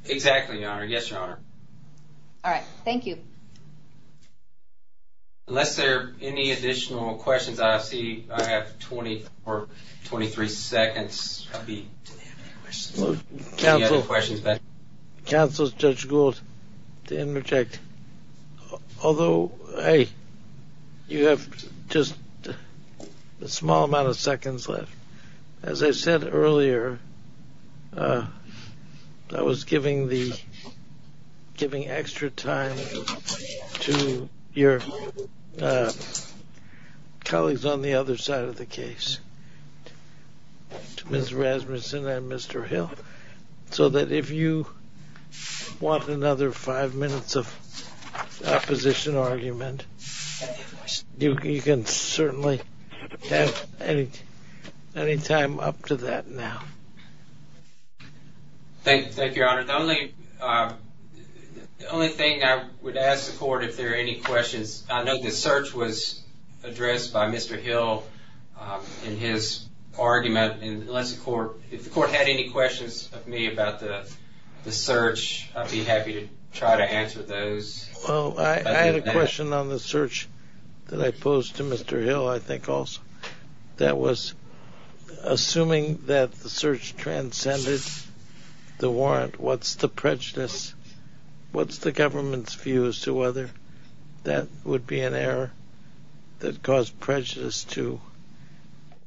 Exactly, Your Honor. Yes, Your Honor. All right. Thank you. Unless there are any additional questions, I see I have 20 or 23 seconds. I'll be taking any questions. Counsel, Judge Gould, to interject. Although I, you have just a small amount of seconds left. As I said earlier, I was giving the, giving extra time to your colleagues on the other side of the case, Ms. Rasmussen and Mr. Hill, so that if you want another five minutes of opposition or argument, you can certainly have any time up to that now. Thank you, Your Honor. The only, the only thing I would ask the court if there are any questions, I know the search was addressed by Mr. Hill in his argument, and unless the court, if the court had any questions of me about the search, I'd be happy to try to answer those. Well, I had a question on the search that I posed to Mr. Hill, I think also, that was assuming that the search transcended to Mr. Hill. What's the prejudice? What's the government's view as to whether that would be an error that caused prejudice to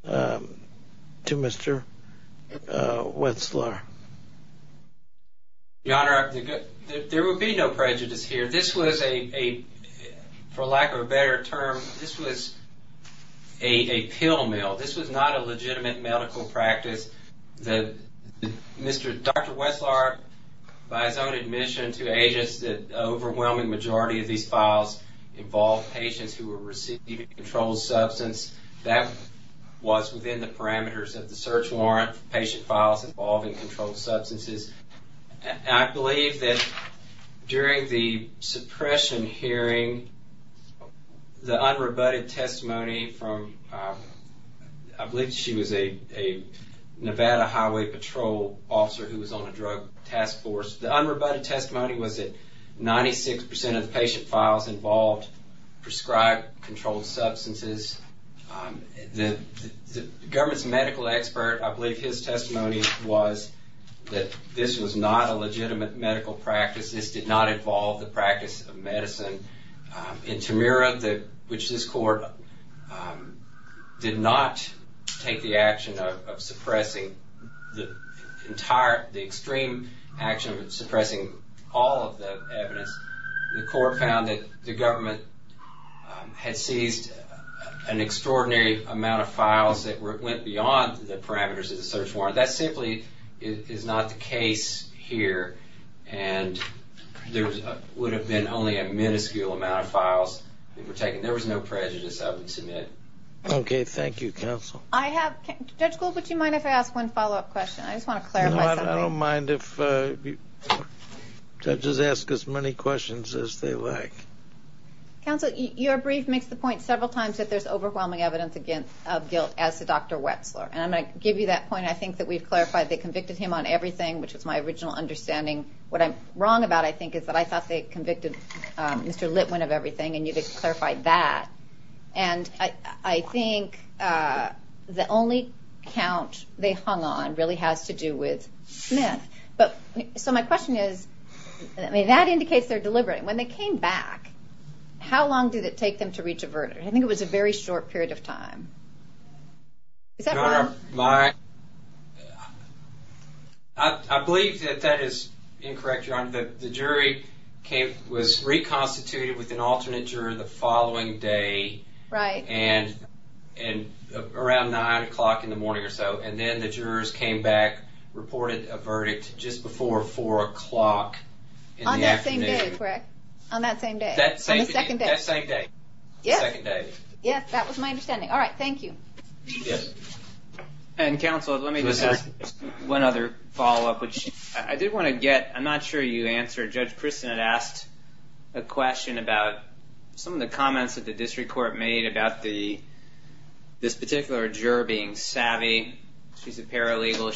to Mr. Wetzlar? Your Honor, there would be no prejudice here. This was a, for lack of a better term, this was a pill mill. This was not a legitimate medical practice. The, Dr. Wetzlar by his own admission to AGIS, the overwhelming majority of these files involved patients who were receiving controlled substance. That was within the parameters of the search warrant, patient files involving controlled substances. And I believe that during the suppression hearing, the unrebutted testimony from I believe she was a Nevada Highway Patrol officer who was on the drug task force. The unrebutted testimony was that 96% of the patient files involved prescribed controlled substances. The government's medical expert, I believe his testimony was that this was not a legitimate medical practice. This did not involve the practice of medicine. In Tamira, which this court did not take the action of suppressing the entire, the extreme action of suppressing all of the evidence. The court found that the government had seized an extraordinary amount of files that went beyond the parameters of the search warrant. That simply is not the case here. And there would have been only a minuscule amount of files that were taken. There was no prejudice I would submit. Okay. Thank you, counsel. Judge Gould, would you mind if I ask one follow-up question? I just want to clarify. I don't mind if judges ask as many questions as they like. Counsel, your brief makes the point several times that there's overwhelming evidence against Gil as to Dr. Wetzler. And I give you that point. I think that we've clarified they convicted him on everything, which is my original understanding. What I'm wrong about, I think, is that I thought they convicted Mr. Litwin of everything and you just clarified that. And I think the only count they hung on really has to do with Smith. So my question is, that indicates they're deliberate. When they came back, how long did it take them to reach a verdict? I think it was a very short period of time. Is that wrong? I believe that that is incorrect, Your Honor. The jury was reconstituted with an alternate juror the following day and around 9 o'clock in the morning or so. And then the jurors came back, reported a verdict just before 4 o'clock in the afternoon. On that same day, correct? On that same day. On the second day. That same day. Yes. Yes, that was my understanding. All right, thank you. Yes. And, Counsel, let me just ask one other follow-up, which I did want to get. I'm not sure you answered or Judge Kristen had asked a question about some of the comments that the district court made about the this particular juror being savvy. She's a paralegal.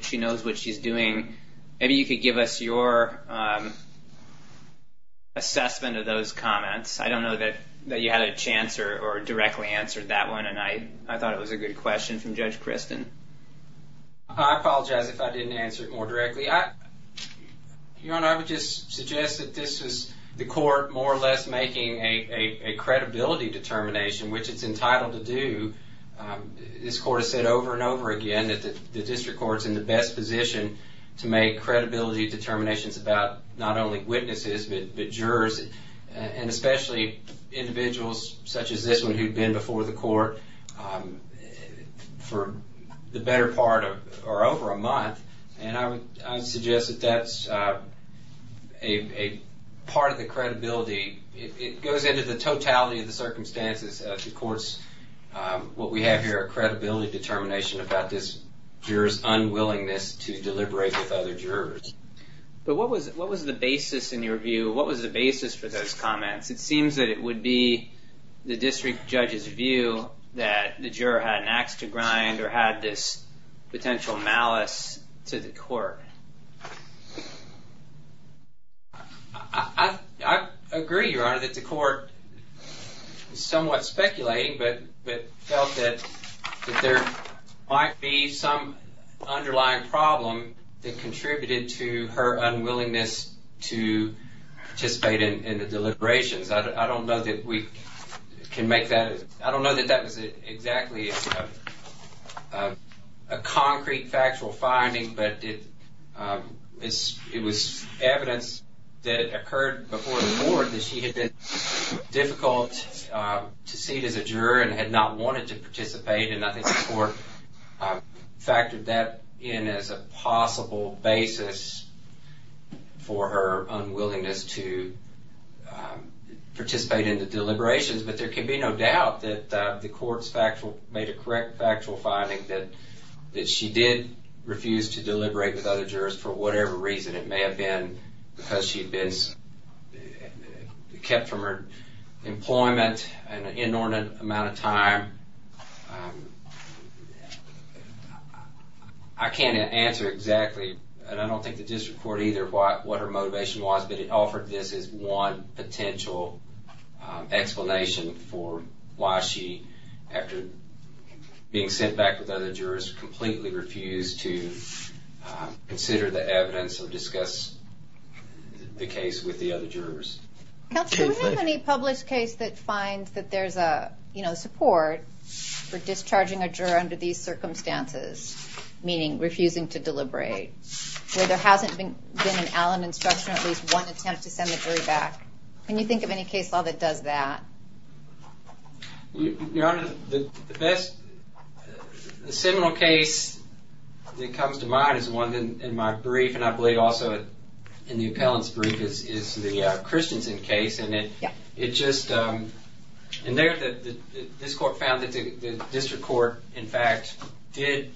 She knows what she's doing. Maybe you could give us your assessment of those comments. I don't know that you had a chance or directly answered that one and I thought it was a good question from Judge Kristen. I apologize if I didn't answer it more directly. I would just suggest that this is the court more or less making a credibility determination, which it's entitled to do. This court has said over and over again that the district court is in the best position to make credibility determinations about not only witnesses, but jurors and especially individuals such as this one who've been before the court for the better part or over a month. I would suggest that that's part of the credibility. It goes into the totality of the circumstances that supports what we have here, credibility determination about this juror's unwillingness to deliberate with other jurors. What was the basis in your view? What was the basis for those comments? It seems that it would be the district judge's view that the juror had an axe to grind or had this potential malice to the court. I agree, Your Honor, that the court is somewhat speculating but felt that that there might be some underlying problem that contributed to her unwillingness to participate in the deliberations. I don't know that we can make that... I don't know that that was exactly a concrete factual finding but it was evidence that occurred before the court that she had been difficult to see as a juror and had not wanted to participate and I think the court factored that in as a possible basis for her unwillingness to participate in the deliberations but there can be no doubt that the court made a correct factual finding that she did refuse to deliberate with other jurors for whatever reason. It may have been because she had been kept from her employment an inordinate amount of time. I can't answer exactly and I don't think the district court either what her motivation was but it offered this as one potential explanation for why she after being sent back with other jurors completely refused to consider the evidence or discuss the case with the other jurors. Counselor, do we have any published case that finds that there's a support for discharging a juror under these circumstances meaning refusing to deliberate where there hasn't been an alum instruction at least one attempt to send the jury back. Can you think of any case that does that? Your Honor, the best the seminal case that comes to mind is the one in my brief and I believe also in the appellant's brief is the Christensen case and it it just and there this court found that the district court in fact did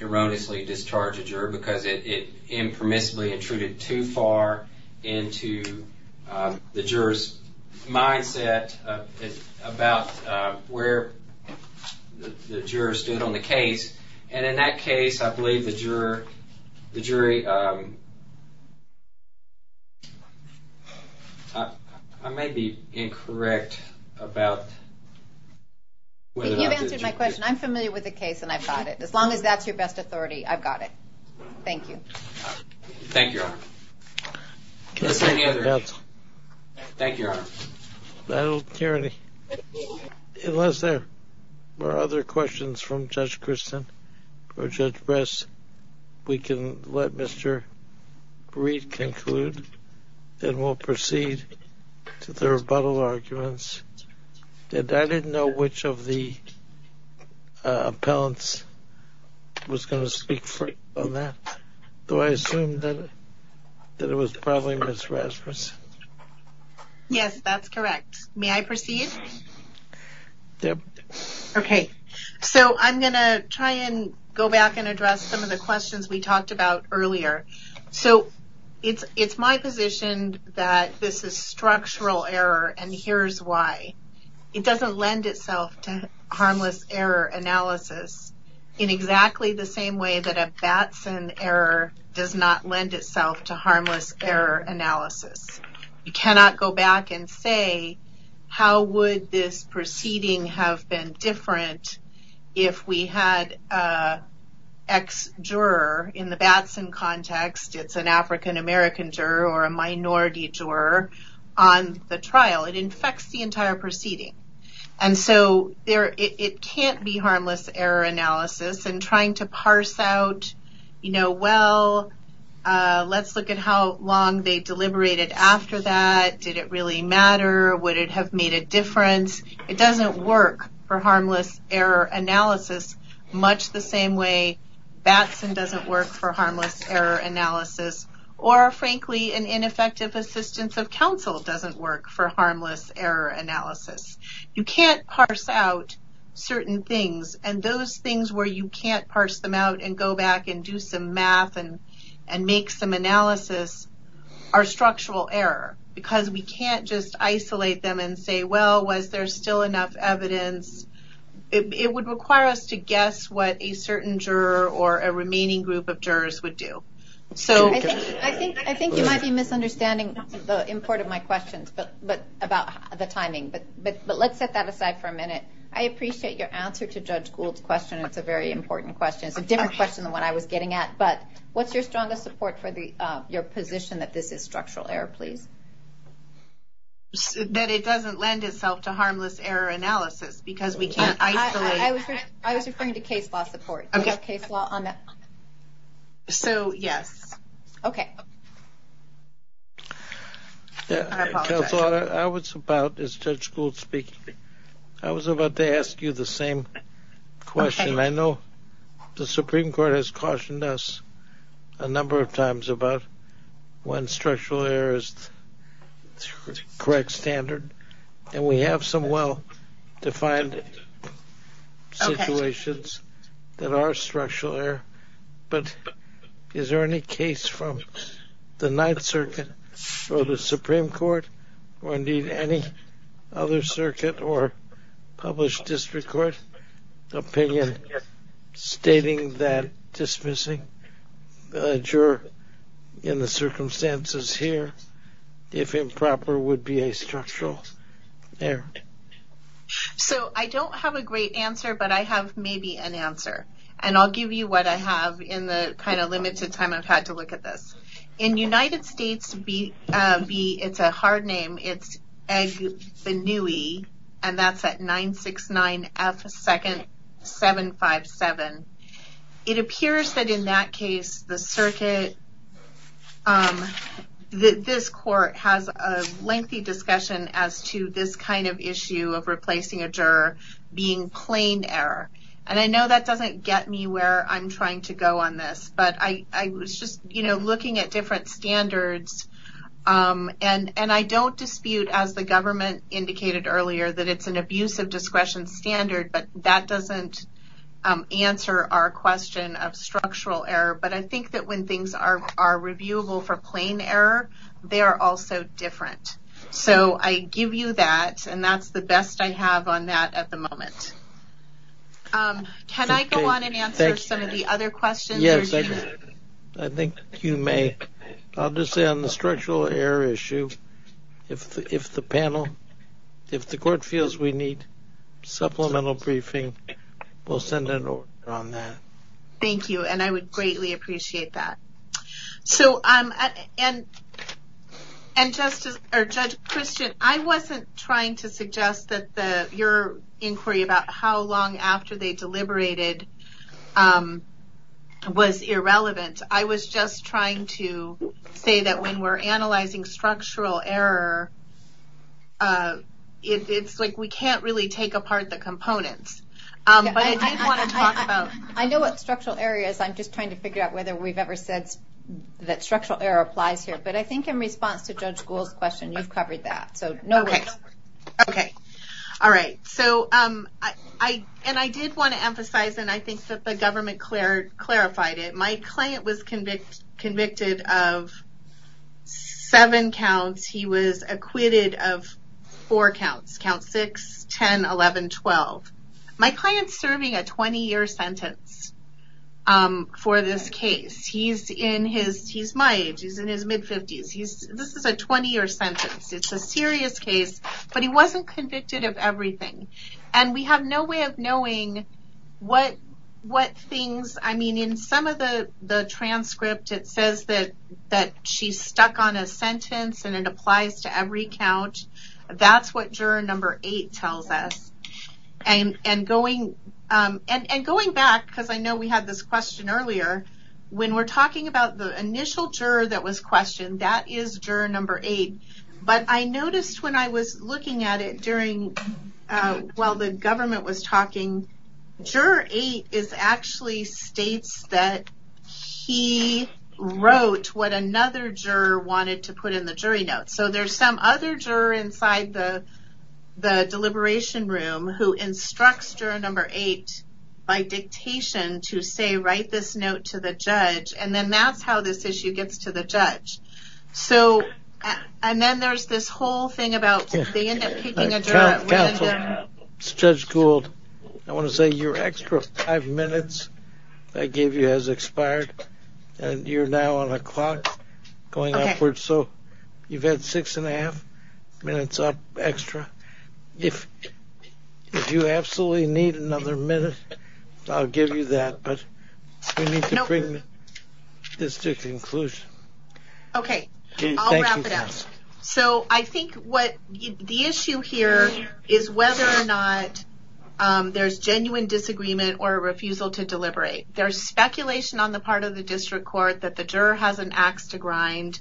erroneously discharge a juror because it impermissibly intruded too far into the jurors mindset about where the juror stood on the case and in that case I believe the juror the jury I may be incorrect about whether that's the juror's case. I'm familiar with the case and I've got it. As long as that's your best authority I've got it. Thank you. Thank you, Your Honor. Thank you, Your Honor. I don't hear any unless there were other questions from Judge Christensen or Judge Ress we can let Mr. Breed conclude and we'll proceed to the rebuttal arguments. I didn't know which of the appellants was going to speak on that. Do I assume that Judge Ress that it was probably Ms. Ress? Yes, that's correct. May I proceed? Yes. Okay. So I'm going to try and go back and address some of the questions we talked about earlier. So it's my position that this is structural error and here's why. It doesn't lend itself to harmless error analysis in exactly the same way that a can't do harmless error analysis. You cannot go back and say how would this proceeding have been different if we had an ex- juror in the Batson context, it's an African-American juror or a minority juror on the trial. It infects the entire proceeding. So it can't be said how long they deliberated after that, did it really matter, would it have made a difference. It doesn't work for harmless error analysis much the same way Batson doesn't work for harmless error analysis or frankly an ineffective assistance of counsel doesn't work for harmless error analysis. You can't parse out certain things and those things where you can't parse them out and go back and do some math and make some analysis are structural error because we can't just isolate them and say well was there still enough evidence. It would require us to guess what a certain juror or a remaining group of jurors would do. I think you might be misunderstanding the import of my question about the timing but let's set that aside for a minute. I appreciate your answer to Judge Gould's question. It's a very important question. What's your strongest support for your position that this is structural error please. That it doesn't lend itself to harmless error analysis because we have to be careful about what we say. I apologize. I was about to ask you the same question. I know the Supreme Court has cautioned us a number of times about when structural error is the correct standard and we have some well defined situations that are structural error but is there any case from the Ninth Circuit for the Supreme Court or indeed any other circuit or published district court opinion stating that dismissing a juror in the circumstances here if improper would be a structural error. I don't have a great answer but I have maybe an answer. I will give you what I have in the limited time I've had to look at this. In the United States it's a hard name and that's at 969F second 757. It appears that in that case the circuit this court has a lengthy discussion as to this kind of issue of replacing a juror being plain error. I know that doesn't get me where I'm trying to go on this but I was looking at different standards and I don't dispute as the government indicated earlier that it's an abusive discretion standard but that doesn't answer our question of structural error but I think when things are reviewable for plain error they are also different. So I give you that and that's the best I have on that at the moment. Can I go on and answer some of the other questions? I think you may. I'll just say on the structural error issue if the panel, if the court feels we need supplemental briefing we'll send it on that. Thank you and I would greatly appreciate that. And Judge Christian, I wasn't trying to suggest that your inquiry about how long after they deliberated was irrelevant. I was just trying to say that when we're analyzing structural error it's like we can't really take apart the components. But I do want to talk about structural error. I know what structural error is. I'm just trying to figure out whether we've ever said that structural error applies here. But I think in response to Judge Gould's question you covered that. Okay. I did want to emphasize and I think the government clarified it. My client was convicted of seven counts. He was acquitted of four counts. Count six, 10, 11, 12. My client is serving a 20-year sentence for this case. He's in his, he's my age, he's in his mid-50s. This is a 20-year sentence. It's a serious case. But he wasn't convicted of everything. And we have no way of knowing what things, I mean, in some of the transcript it says that she's stuck on a sentence and it applies to every count. That's what juror number eight tells us. And going back, because I know we had this question earlier, when we're talking about the initial juror that was questioned, that is juror number eight. But I jury that was talking, juror eight actually states that he wrote what another juror wanted to put in the jury notes. So there's some other juror inside the deliberation room who instructs juror number eight by dictation to say write this note to the judge. And that's how this issue gets to the judge. So, and I want to say your extra five minutes I gave you has expired. And you're now on a clock going upwards. So you've had six and a half minutes up extra. If you absolutely need another minute, I'll give you that. But you need to bring this to conclusion. Okay. I'll wrap it up. So I think what the issue here is whether or not there's genuine disagreement or refusal to deliberate. There's speculation on the part of the district court that the juror has an axe to grind.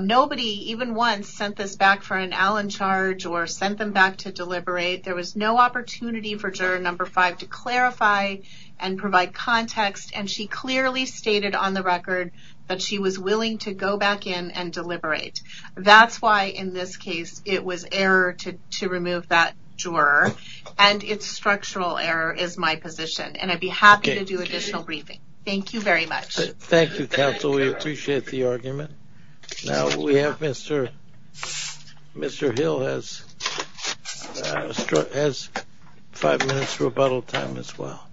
Nobody even once sent this back for an Allen charge or sent them back to deliberate. There was no opportunity for juror number five to clarify and provide context and she clearly stated on the record that she was willing to go back in and deliberate. That's why in this case it was error to remove that juror and it's structural error is my position. And I'd be happy to do additional briefing. Thank you very much. Thank you, counsel. We appreciate the argument. Now we have Mr. Hill has five minutes for rebuttal time as well.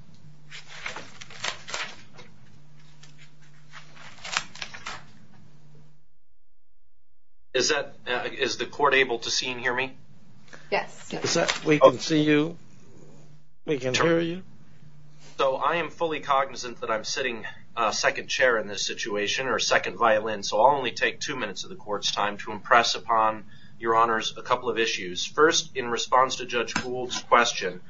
Is the court able to see and hear me? Yes. We can see you? We can hear you? So I am fully cognizant that I'm sitting second chair in this situation or second violin so I'll only take two minutes of the court's time to impress upon your a couple of issues. First in response to Judge Hould's question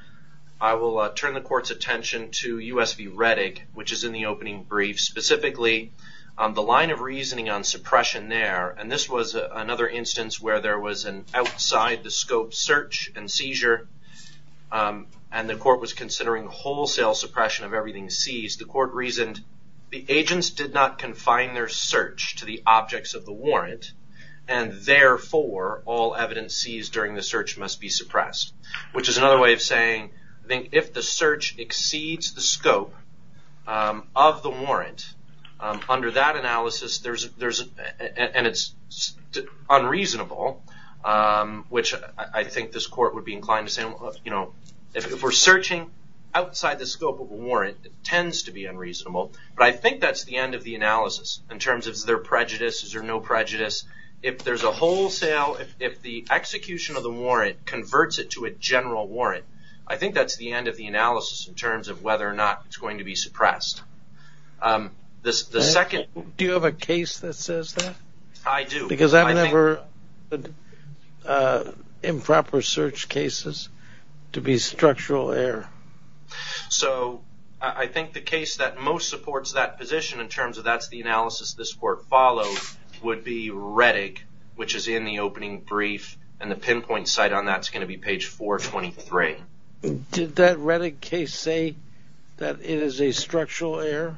I will turn the court's attention to USV Reddick which is in the opening brief. Specifically the line of reasoning on suppression there and this was another instance where there was an outside the scope search and seizure and the court was considering wholesale suppression of everything that was seized. The court reasoned the agents did not confine their search to the objects of the warrant and therefore all evidence seized during the search must be suppressed. Which is another way of saying if the search exceeds the scope of the warrant under that analysis and it's unreasonable which I think is of the analysis. If we're searching outside the scope of the warrant it tends to be unreasonable but I think that's the end of the analysis in terms of prejudices or no prejudice. If the execution of the warrant converts it to a general warrant I think that's the end of the analysis in terms of whether or not it's going to be suppressed. The second Do you have a case that says that? I do. Because I've never improper search cases to be structural error. So I think the case that most supports that position in terms of that's the analysis this court follows would be Reddick which is in the opening brief and the pinpoint site on that is going to be page 423. Did that Reddick case say that it is a structural error?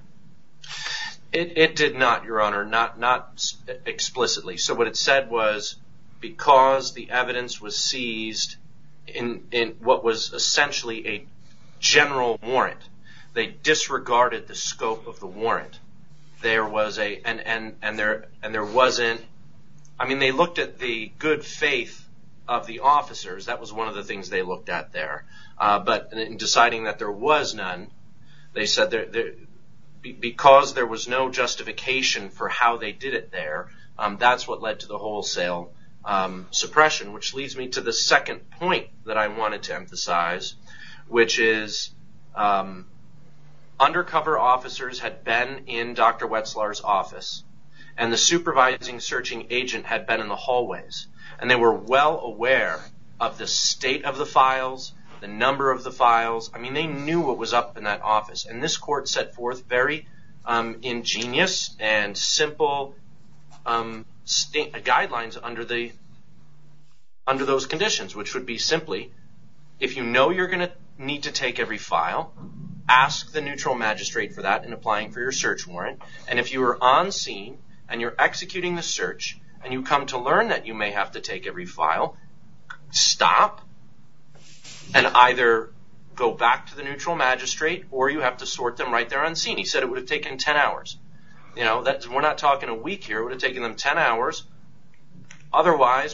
It did not your honor. Not explicitly. So what it said was because the evidence was seized in what was essentially a general warrant they disregarded the scope of the warrant. There was a and there wasn't I mean they looked at the good faith of the officers. That was one of the things they looked at there. But in deciding there was none they said because there was no justification for how they did it there that's what led to the wholesale suppression which leads me to the second point that I wanted to emphasize which is that under cover officers had been in Dr. Wetzlar's office and they were well aware of the state of the files, the number of the files. They knew what was up in that office and this court set forth very ingenious and simple guidelines on how take every file and what was under those conditions which would be simply if you know you will need to take every file ask the magistrate and if you are on scene and you come to learn you may have to take every file stop and either go back to the neutral magistrate or you have to sort them right there on scene. He said it would have taken 10 hours. Otherwise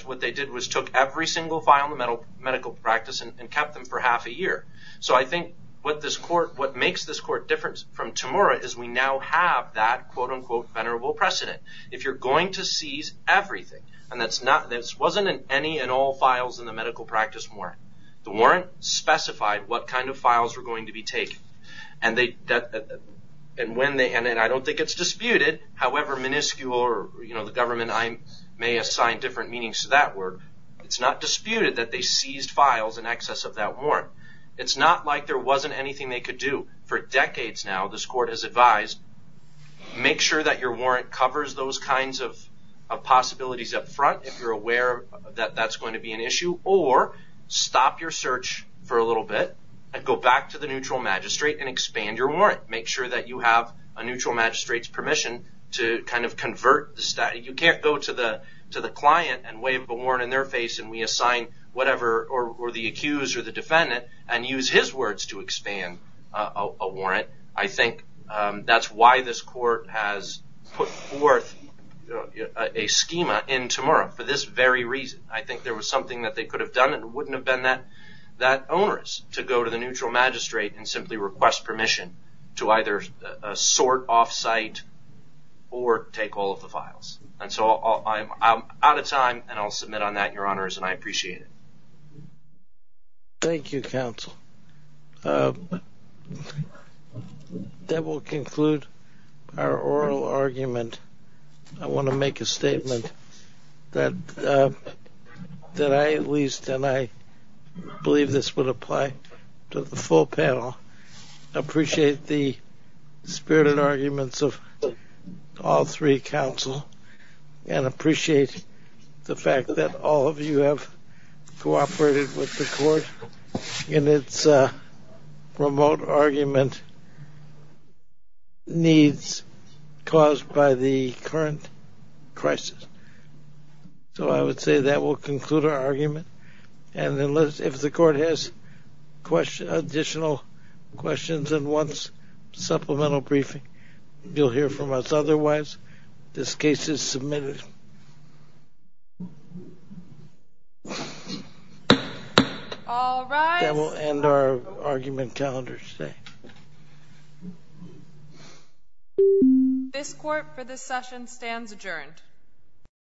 what they did was took every single file and kept them for half a year. So I think what makes this court different from Tamora is we now have that precedent. If you are going to seize everything and it wasn't in any and all files in the medical practice the warrant specified what kind of files were going to be taken. I don't think it's disputed however that they seized files in excess of that warrant. It's not like there wasn't anything they could do. For decades now this court has advised make sure your warrant covers those kinds of possibilities up front or stop your search for a little bit and go back to the neutral magistrate and ask for permission to convert. You can't go to the client and assign whatever and use his words to expand a warrant. I think that's why this court has put forth a schema in Tamora for this very reason. I think there was something that was said in Tamora and I think that's what this court has said. I don't think that this court has said that there is no way that this court can I think that this court has concluded arguments of all three counsel and appreciate the fact that all of you have cooperated with the court in its remote argument needs caused by the court itself. Thank you. I will end our argument calendar today. This court for this session stands adjourned.